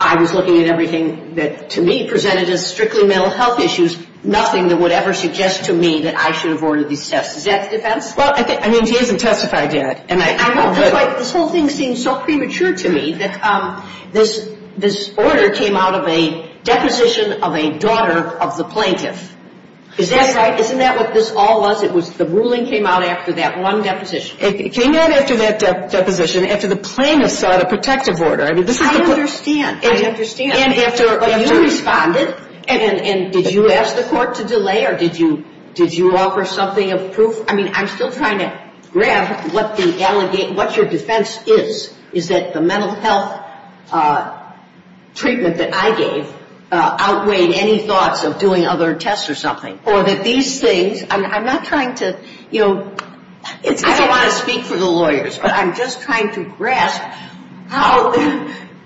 I was looking at everything that, to me, presented as strictly mental health issues, nothing that would ever suggest to me that I should have ordered these tests. Is that the defense? Well, I mean, he hasn't testified yet. This whole thing seems so premature to me. This order came out of a deposition of a daughter of the plaintiff. Isn't that what this all was? The ruling came out after that one deposition. It came out after that deposition, after the plaintiff sought a protective order. I mean, this is a- I understand. I understand. And after you responded, and did you ask the court to delay, or did you offer something of proof? I mean, I'm still trying to grasp what your defense is, is that the mental health treatment that I gave outweighed any thoughts of doing other tests or something. Or that these things-I'm not trying to, you know- I don't want to speak for the lawyers, but I'm just trying to grasp how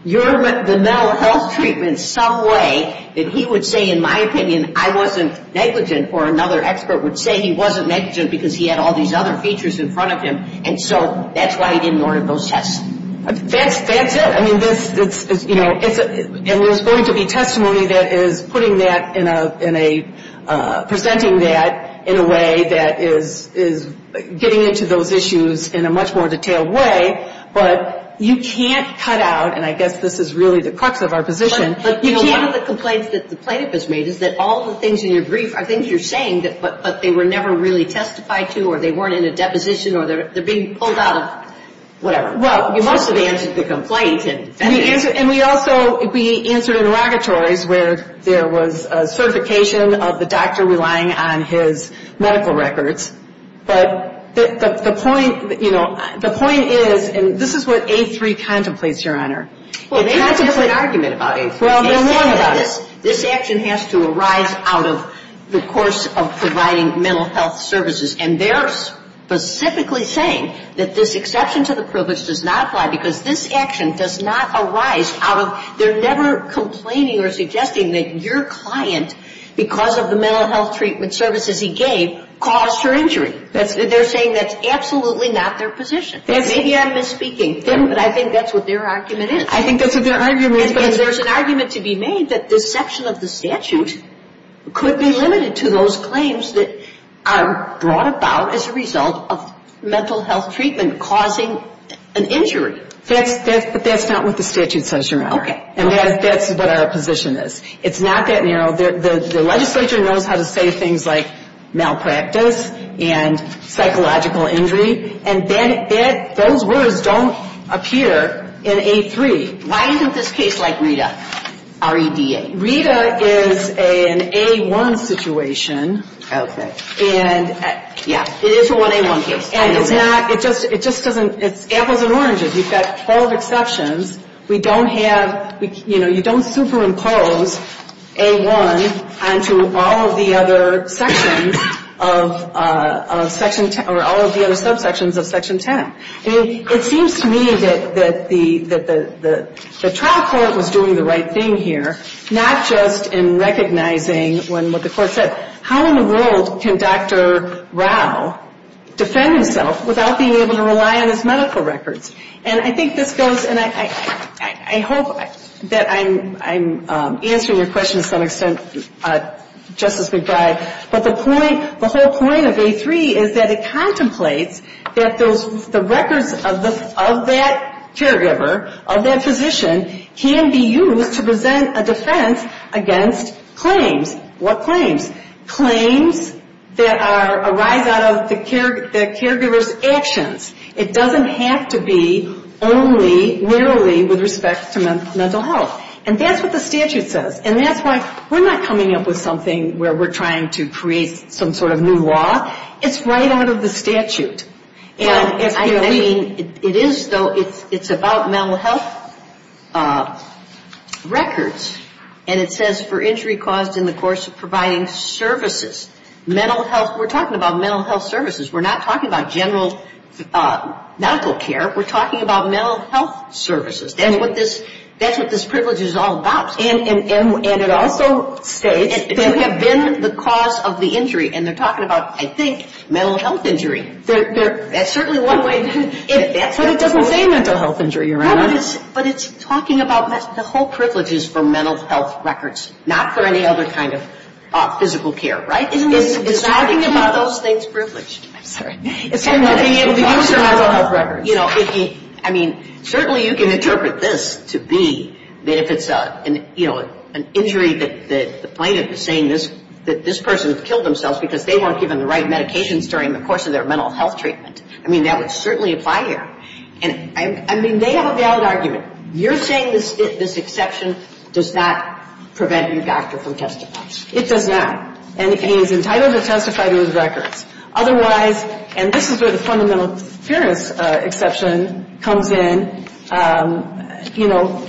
you're the mental health treatment in some way that he would say, in my opinion, I wasn't negligent, or another expert would say he wasn't negligent because he had all these other features in front of him, and so that's why he didn't order those tests. That's it. And there's going to be testimony that is presenting that in a way that is getting into those issues in a much more detailed way, but you can't cut out-and I guess this is really the crux of our position- But one of the complaints that the plaintiff has made is that all of the things in your brief are things you're saying, but they were never really testified to, or they weren't in a deposition, or they're being pulled out of whatever. Well, you must have answered the complaint. And we also-we answered interrogatories where there was certification of the doctor relying on his medical records, but the point is-and this is what A3 contemplates, Your Honor. Well, they have to make an argument about it. Well, they want to. This action has to arise out of the course of providing mental health services, and they're specifically saying that this exception to the privilege does not apply because this action does not arise out of-they're never complaining or suggesting that your client, because of the mental health treatment services he gave, caused her injury. They're saying that's absolutely not their position. Maybe I'm misspeaking, but I think that's what their argument is. I think that's what their argument is. And there's an argument to be made that this section of the statute could be limited to those claims that are brought about as a result of mental health treatment causing an injury. But that's not what the statute says, Your Honor. Okay. And that's what our position is. It's not that-you know, the legislature knows how to say things like malpractice and psychological injury, and then those words don't appear in A3. Why isn't this case like Rita, our EVA? Rita is an A1 situation. Okay. And, yeah, it is a 1A1 case. And it's not-it just doesn't-it's apples and oranges. We've got 12 exceptions. We don't have-you know, you don't superimpose A1 onto all of the other sections of Section- or all of the other subsections of Section 10. It seems to me that the trial court was doing the right thing here, not just in recognizing what the court said. How in the world can Dr. Rao defend himself without being able to rely on his medical records? And I think this goes-and I hope that I'm answering your question to some extent, Justice McBride. But the point-the whole point of A3 is that it contemplates that the records of that caregiver, of that physician, can be used to present a defense against claims. What claims? Claims that arrive out of the caregiver's actions. It doesn't have to be only, rarely, with respect to mental health. And that's what the statute says. And that's why we're not coming up with something where we're trying to create some sort of new law. It's right out of the statute. I mean, it is-it's about mental health records. And it says, for injury caused in the course of providing services. Mental health-we're talking about mental health services. We're not talking about general medical care. We're talking about mental health services. And what this-that's what this privilege is all about. And it also says-and have been the cause of the injury. And they're talking about, I think, mental health injury. That's certainly one way- But it doesn't say mental health injury, Your Honor. No, but it's talking about the whole privileges for mental health records, not for any other kind of physical care. Right? It's talking about those things privileged. I'm sorry. I mean, certainly you can interpret this to be that if it's an injury that the plaintiff is saying that this person has killed themselves because they weren't given the right medications during the course of their mental health treatment. I mean, that would certainly apply here. I mean, they have a valid argument. You're saying this exception does not prevent the attacker from testifying. It does not. And he's entitled to testify to his records. Otherwise-and this is where the fundamental experience exception comes in. You know,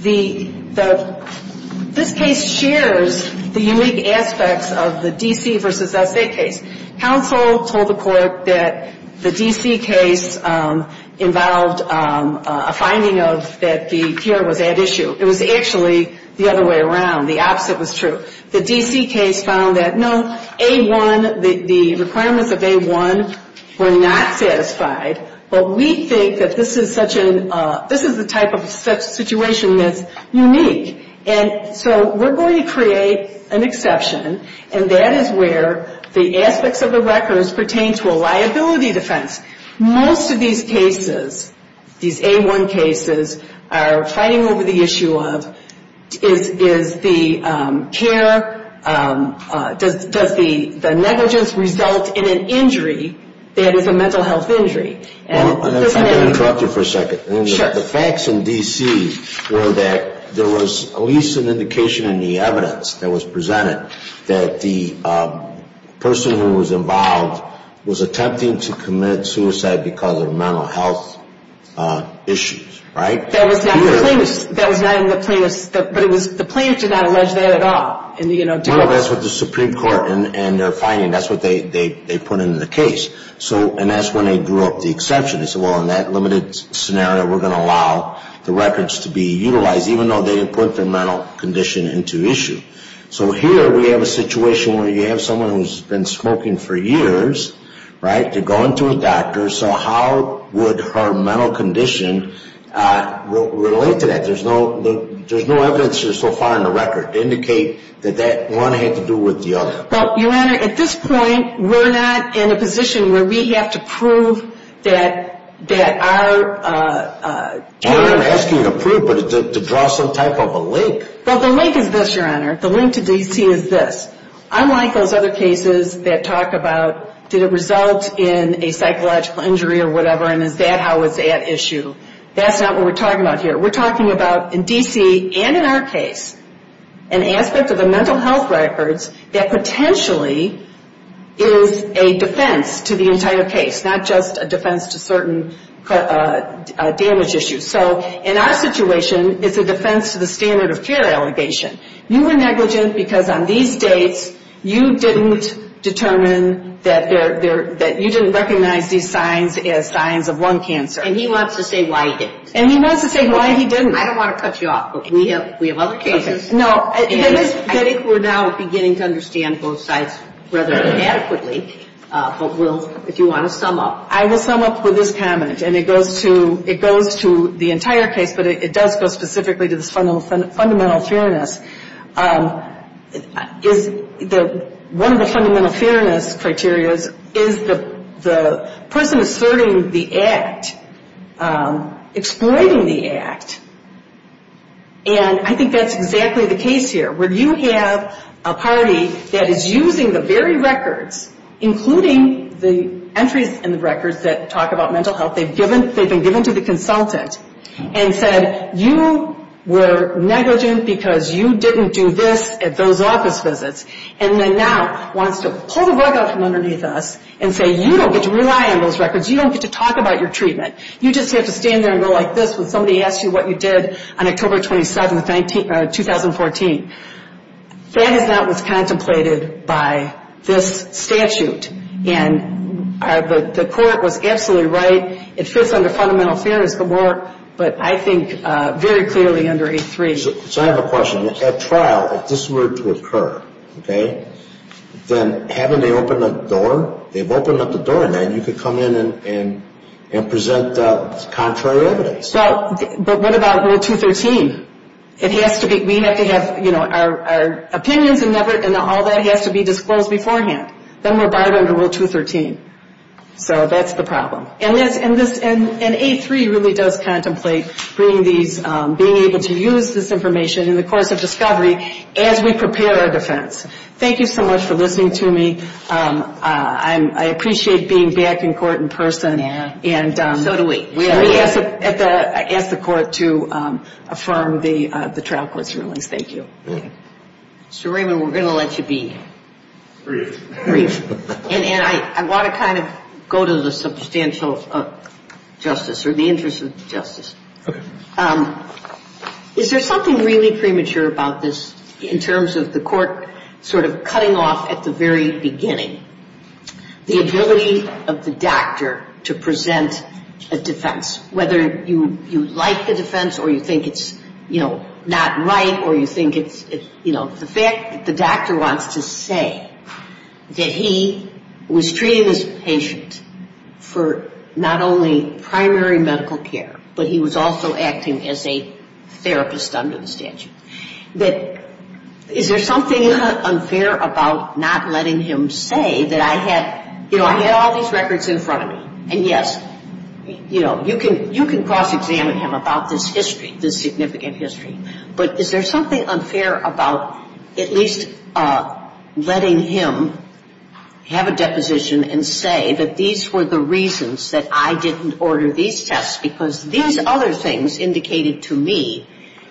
the-this case shares the unique aspects of the D.C. v. S.A. case. Hounsoul told the court that the D.C. case involved a finding of that the fear was at issue. It was actually the other way around. The opposite was true. The D.C. case found that, no, A-1, the requirements of A-1 were not satisfied. But we think that this is such a-this is a type of situation that's unique. And so we're going to create an exception, and that is where the aspects of the records pertain to a liability defense. Most of these cases, these A-1 cases, are fighting over the issue of is the care-does the negligence result in an injury that is a mental health injury? I'm going to try to interrupt you for a second. Sure. The facts in D.C. were that there was at least an indication in the evidence that was presented that the person who was involved was attempting to commit suicide because of mental health issues, right? That was not in the plaintiff's-the plaintiff did not allege that at all. No, that's what the Supreme Court and their finding-that's what they put in the case. So-and that's when they drew up the exception. They said, well, in that limited scenario, we're going to allow the records to be utilized, even though they put the mental condition into issue. So here we have a situation where you have someone who's been smoking for years, right, to go into a doctor. So how would her mental condition relate to that? There's no evidence here so far in the record to indicate that that one had to do with the other. Well, Your Honor, at this point, we're not in a position where we have to prove that our- We're not asking you to prove, but to draw some type of a link. Well, the link is this, Your Honor. The link to D.C. is this. Unlike those other cases that talk about, did it result in a psychological injury or whatever, and is that-how is that issue, that's not what we're talking about here. We're talking about, in D.C. and in our case, an aspect of the mental health records that potentially is a defense to the entire case, not just a defense to certain damage issues. So in our situation, it's a defense to the standard of care allegation. You were negligent because on these dates, you didn't determine that there-that you didn't recognize these signs as signs of lung cancer. And he wants to say why he didn't. And he wants to say why he didn't. I don't want to cut you off, but we have other cases. No, I think we're now beginning to understand both sides rather adequately, but we'll-if you want to sum up. I will sum up with this comment, and it goes to the entire case, but it does go specifically to the fundamental fairness. One of the fundamental fairness criteria is the person asserting the act, exploiting the act. And I think that's exactly the case here. When you have a party that is using the very records, including the entries in the records that talk about mental health, they've been given to the consultant and said you were negligent because you didn't do this at those office visits, and then now wants to pull the rug out from underneath us and say you don't get to rely on those records. You don't get to talk about your treatment. You just get to stand there and go like this when somebody asks you what you did on October 27th, 2014. That is not what's contemplated by this statute. And the court was absolutely right. It fits under fundamental fairness, but I think very clearly under H-3. So I have a question. At trial, if this were to occur, okay, then having to open the door, they've opened up the door, and then you could come in and present the contrary evidence. But what about Rule 213? We have to have our opinions and all that has to be disclosed beforehand. Then we're barred under Rule 213. So that's the problem. And H-3 really does contemplate being able to use this information in the course of discovery as we prepare our defense. Thank you so much for listening to me. I appreciate being back in court in person. So do we. We have to ask the court to affirm the trial court ruling. Thank you. So, Raymond, we're going to let you be brief. And I want to kind of go to the substantial justice or the interest of justice. Is there something really premature about this in terms of the court sort of cutting off at the very beginning the ability of the doctor to present a defense, whether you like the defense or you think it's, you know, not right or you think it's, you know. The fact that the doctor wants to say that he was treating his patient for not only primary medical care, but he was also acting as a therapist under the statute. Is there something unfair about not letting him say that I had, you know, I had all these records in front of me. And, yes, you know, you can cross-examine him about this history, this significant history. But is there something unfair about at least letting him have a deposition and say that these were the reasons that I didn't order these tests, because these other things indicated to me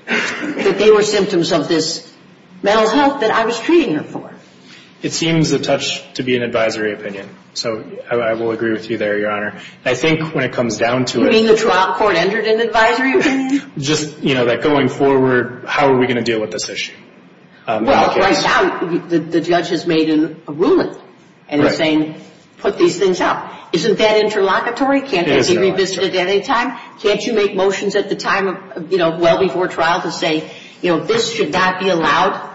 that they were symptoms of this mental health that I was treating him for. It seems a touch to be an advisory opinion. So I will agree with you there, Your Honor. I think when it comes down to it. You mean the trial court entered an advisory opinion? Just, you know, that going forward, how are we going to deal with this issue? Well, right now, the judge has made a ruling. And it's saying put these things out. Isn't that interlocutory? Can't that be revisited at any time? Can't you make motions at the time, you know, well before trial to say, you know, this should not be allowed?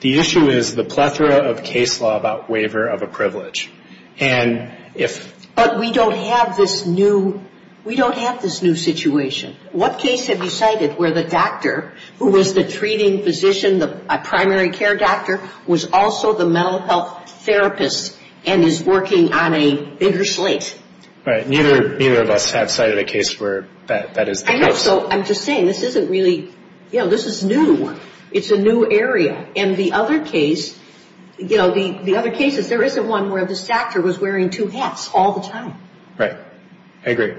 The issue is the plethora of case law about waiver of a privilege. And if... But we don't have this new, we don't have this new situation. What case have you cited where the doctor, who was the treating physician, the primary care doctor, was also the mental health therapist and is working on a bitter slate? Right. Neither of us have cited a case where that is. I know. So I'm just saying this isn't really, you know, this is new. It's a new area. And the other case, you know, the other case is there is a one where this doctor was wearing two hats all the time. Right. I agree.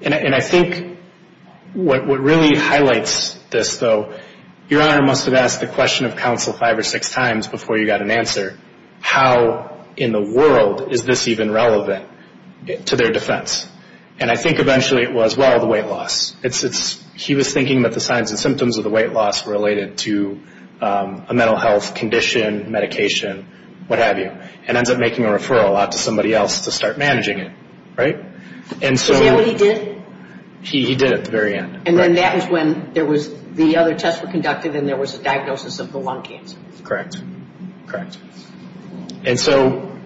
And I think what really highlights this, though, Your Honor must have asked the question of counsel five or six times before you got an answer, how in the world is this even relevant to their defense? And I think eventually it was, well, the weight loss. He was thinking that the signs and symptoms of the weight loss were related to a mental health condition, medication, what have you, and ends up making a referral out to somebody else to start managing it. Right? Is that what he did? He did at the very end. And then that was when the other tests were conducted and there was a diagnosis of the lung cancer. Correct. Correct. And so,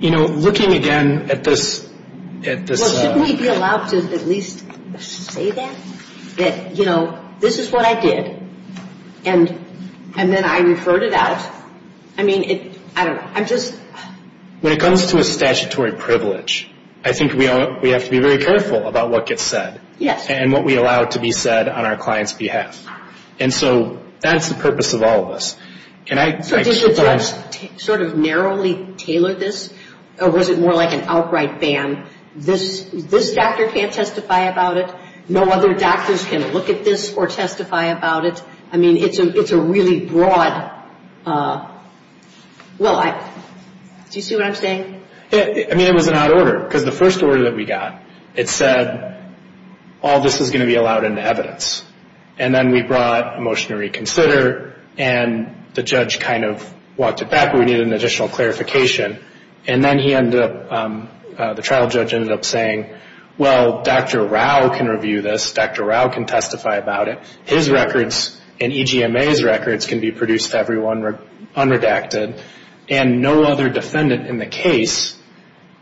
you know, looking again at this. Will somebody be allowed to at least say that? That, you know, this is what I did, and then I refer to that? I mean, I don't know. When it comes to a statutory privilege, I think we have to be very careful about what gets said. Yes. And what we allow to be said on our client's behalf. And so that's the purpose of all of this. Can I sort of narrowly tailor this? Or was it more like an outright ban? This doctor can't testify about it. No other doctors can look at this or testify about it. I mean, it's a really broad. Well, do you see what I'm saying? I mean, it was an out of order. Because the first order that we got, it said all of this is going to be allowed into evidence. And then we brought a motion to reconsider, and the judge kind of walked it back. We needed an additional clarification. And then he ended up, the trial judge ended up saying, well, Dr. Rao can review this. Dr. Rao can testify about it. His records and EGMA's records can be produced to everyone unredacted. And no other defendant in the case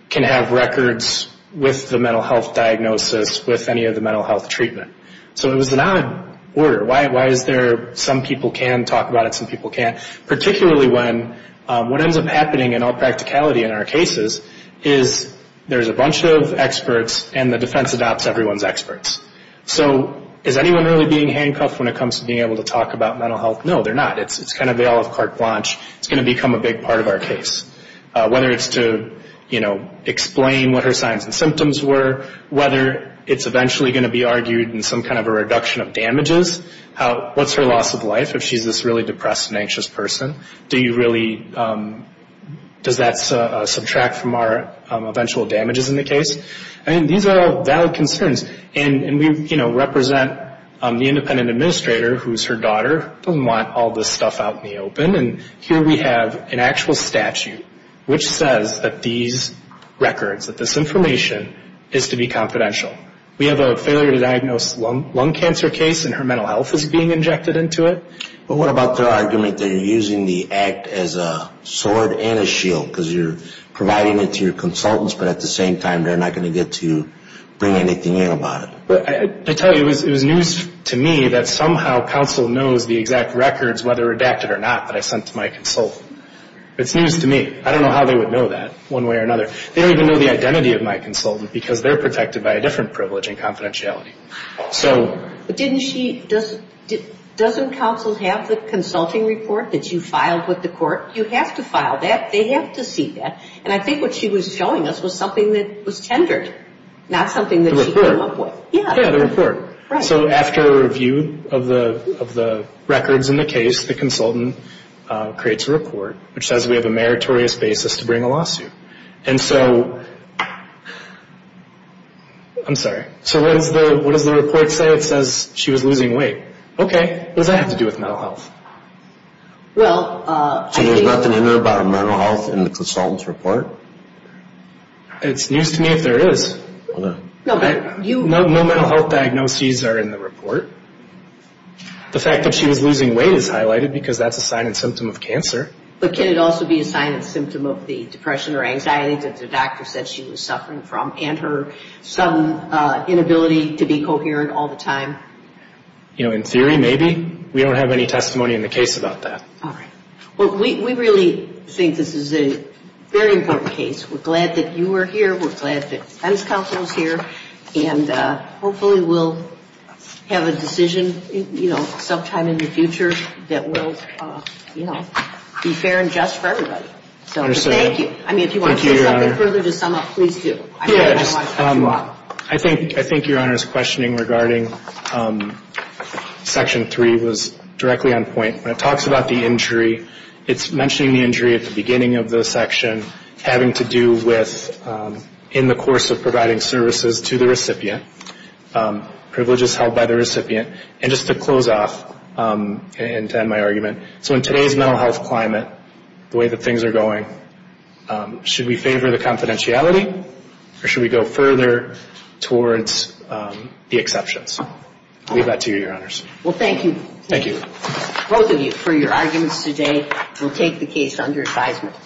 can have records with the mental health diagnosis with any of the mental health treatment. So it was an out of order. Why is there some people can talk about it, some people can't? Particularly when what ends up happening in all practicality in our cases is there's a bunch of experts, and the defense adopts everyone's experts. So is anyone really being handcuffed when it comes to being able to talk about mental health? No, they're not. It's kind of the olive cart blanche. It's going to become a big part of our case. Whether it's to, you know, explain what her signs and symptoms were, whether it's eventually going to be argued in some kind of a reduction of damages, what's her loss of life if she's this really depressed and anxious person? Do you really, does that subtract from our eventual damages in the case? I mean, these are all valid concerns. And we, you know, represent the independent administrator, who's her daughter, who want all this stuff out in the open. And here we have an actual statute which says that these records, that this information is to be confidential. We have a failure to diagnose lung cancer case, and her mental health is being injected into it. But what about the argument that you're using the act as a sword and a shield because you're providing it to your consultants, but at the same time they're not going to get to bring anything in about it? I tell you, it was news to me that somehow counsel knows the exact records, whether redacted or not, that I sent to my consultant. It's news to me. I don't know how they would know that one way or another. They don't even know the identity of my consultant because they're protected by a different privilege and confidentiality. But didn't she, doesn't counsel have the consulting report that you filed with the court? You have to file that. They have to see that. And I think what she was telling us was something that was tendered, not something that she came up with. Yeah, the report. So after a review of the records in the case, the consultant creates a report which says we have a meritorious basis to bring a lawsuit. And so, I'm sorry, so what does the report say? It says she was losing weight. Okay. What does that have to do with mental health? Well, I think. So there's nothing in there about mental health in the consultant's report? It's news to me that there is. No mental health diagnoses are in the report. The fact that she was losing weight is highlighted because that's a sign and symptom of cancer. But can it also be a sign and symptom of the depression or anxiety that the doctor said she was suffering from and her some inability to be coherent all the time? You know, in theory, maybe. We don't have any testimony in the case about that. All right. Well, we really think this is a very important case. We're glad that you were here. We're glad that the tennis council is here. And hopefully we'll have a decision, you know, sometime in the future that will, you know, be fair and just for everybody. So, thank you. Thank you, Your Honor. I mean, if you want to go further to sum up, please do. Yes. I think Your Honor's questioning regarding Section 3 was directly on point. When it talks about the injury, it's mentioning the injury at the beginning of the section having to do with in the course of providing services to the recipient, privileges held by the recipient. And just to close off and to end my argument, so in today's mental health climate, the way that things are going, should we favor the confidentiality or should we go further towards the exceptions? Leave that to you, Your Honors. Well, thank you. Thank you. Both of you for your arguments today. We'll take the case under assignment.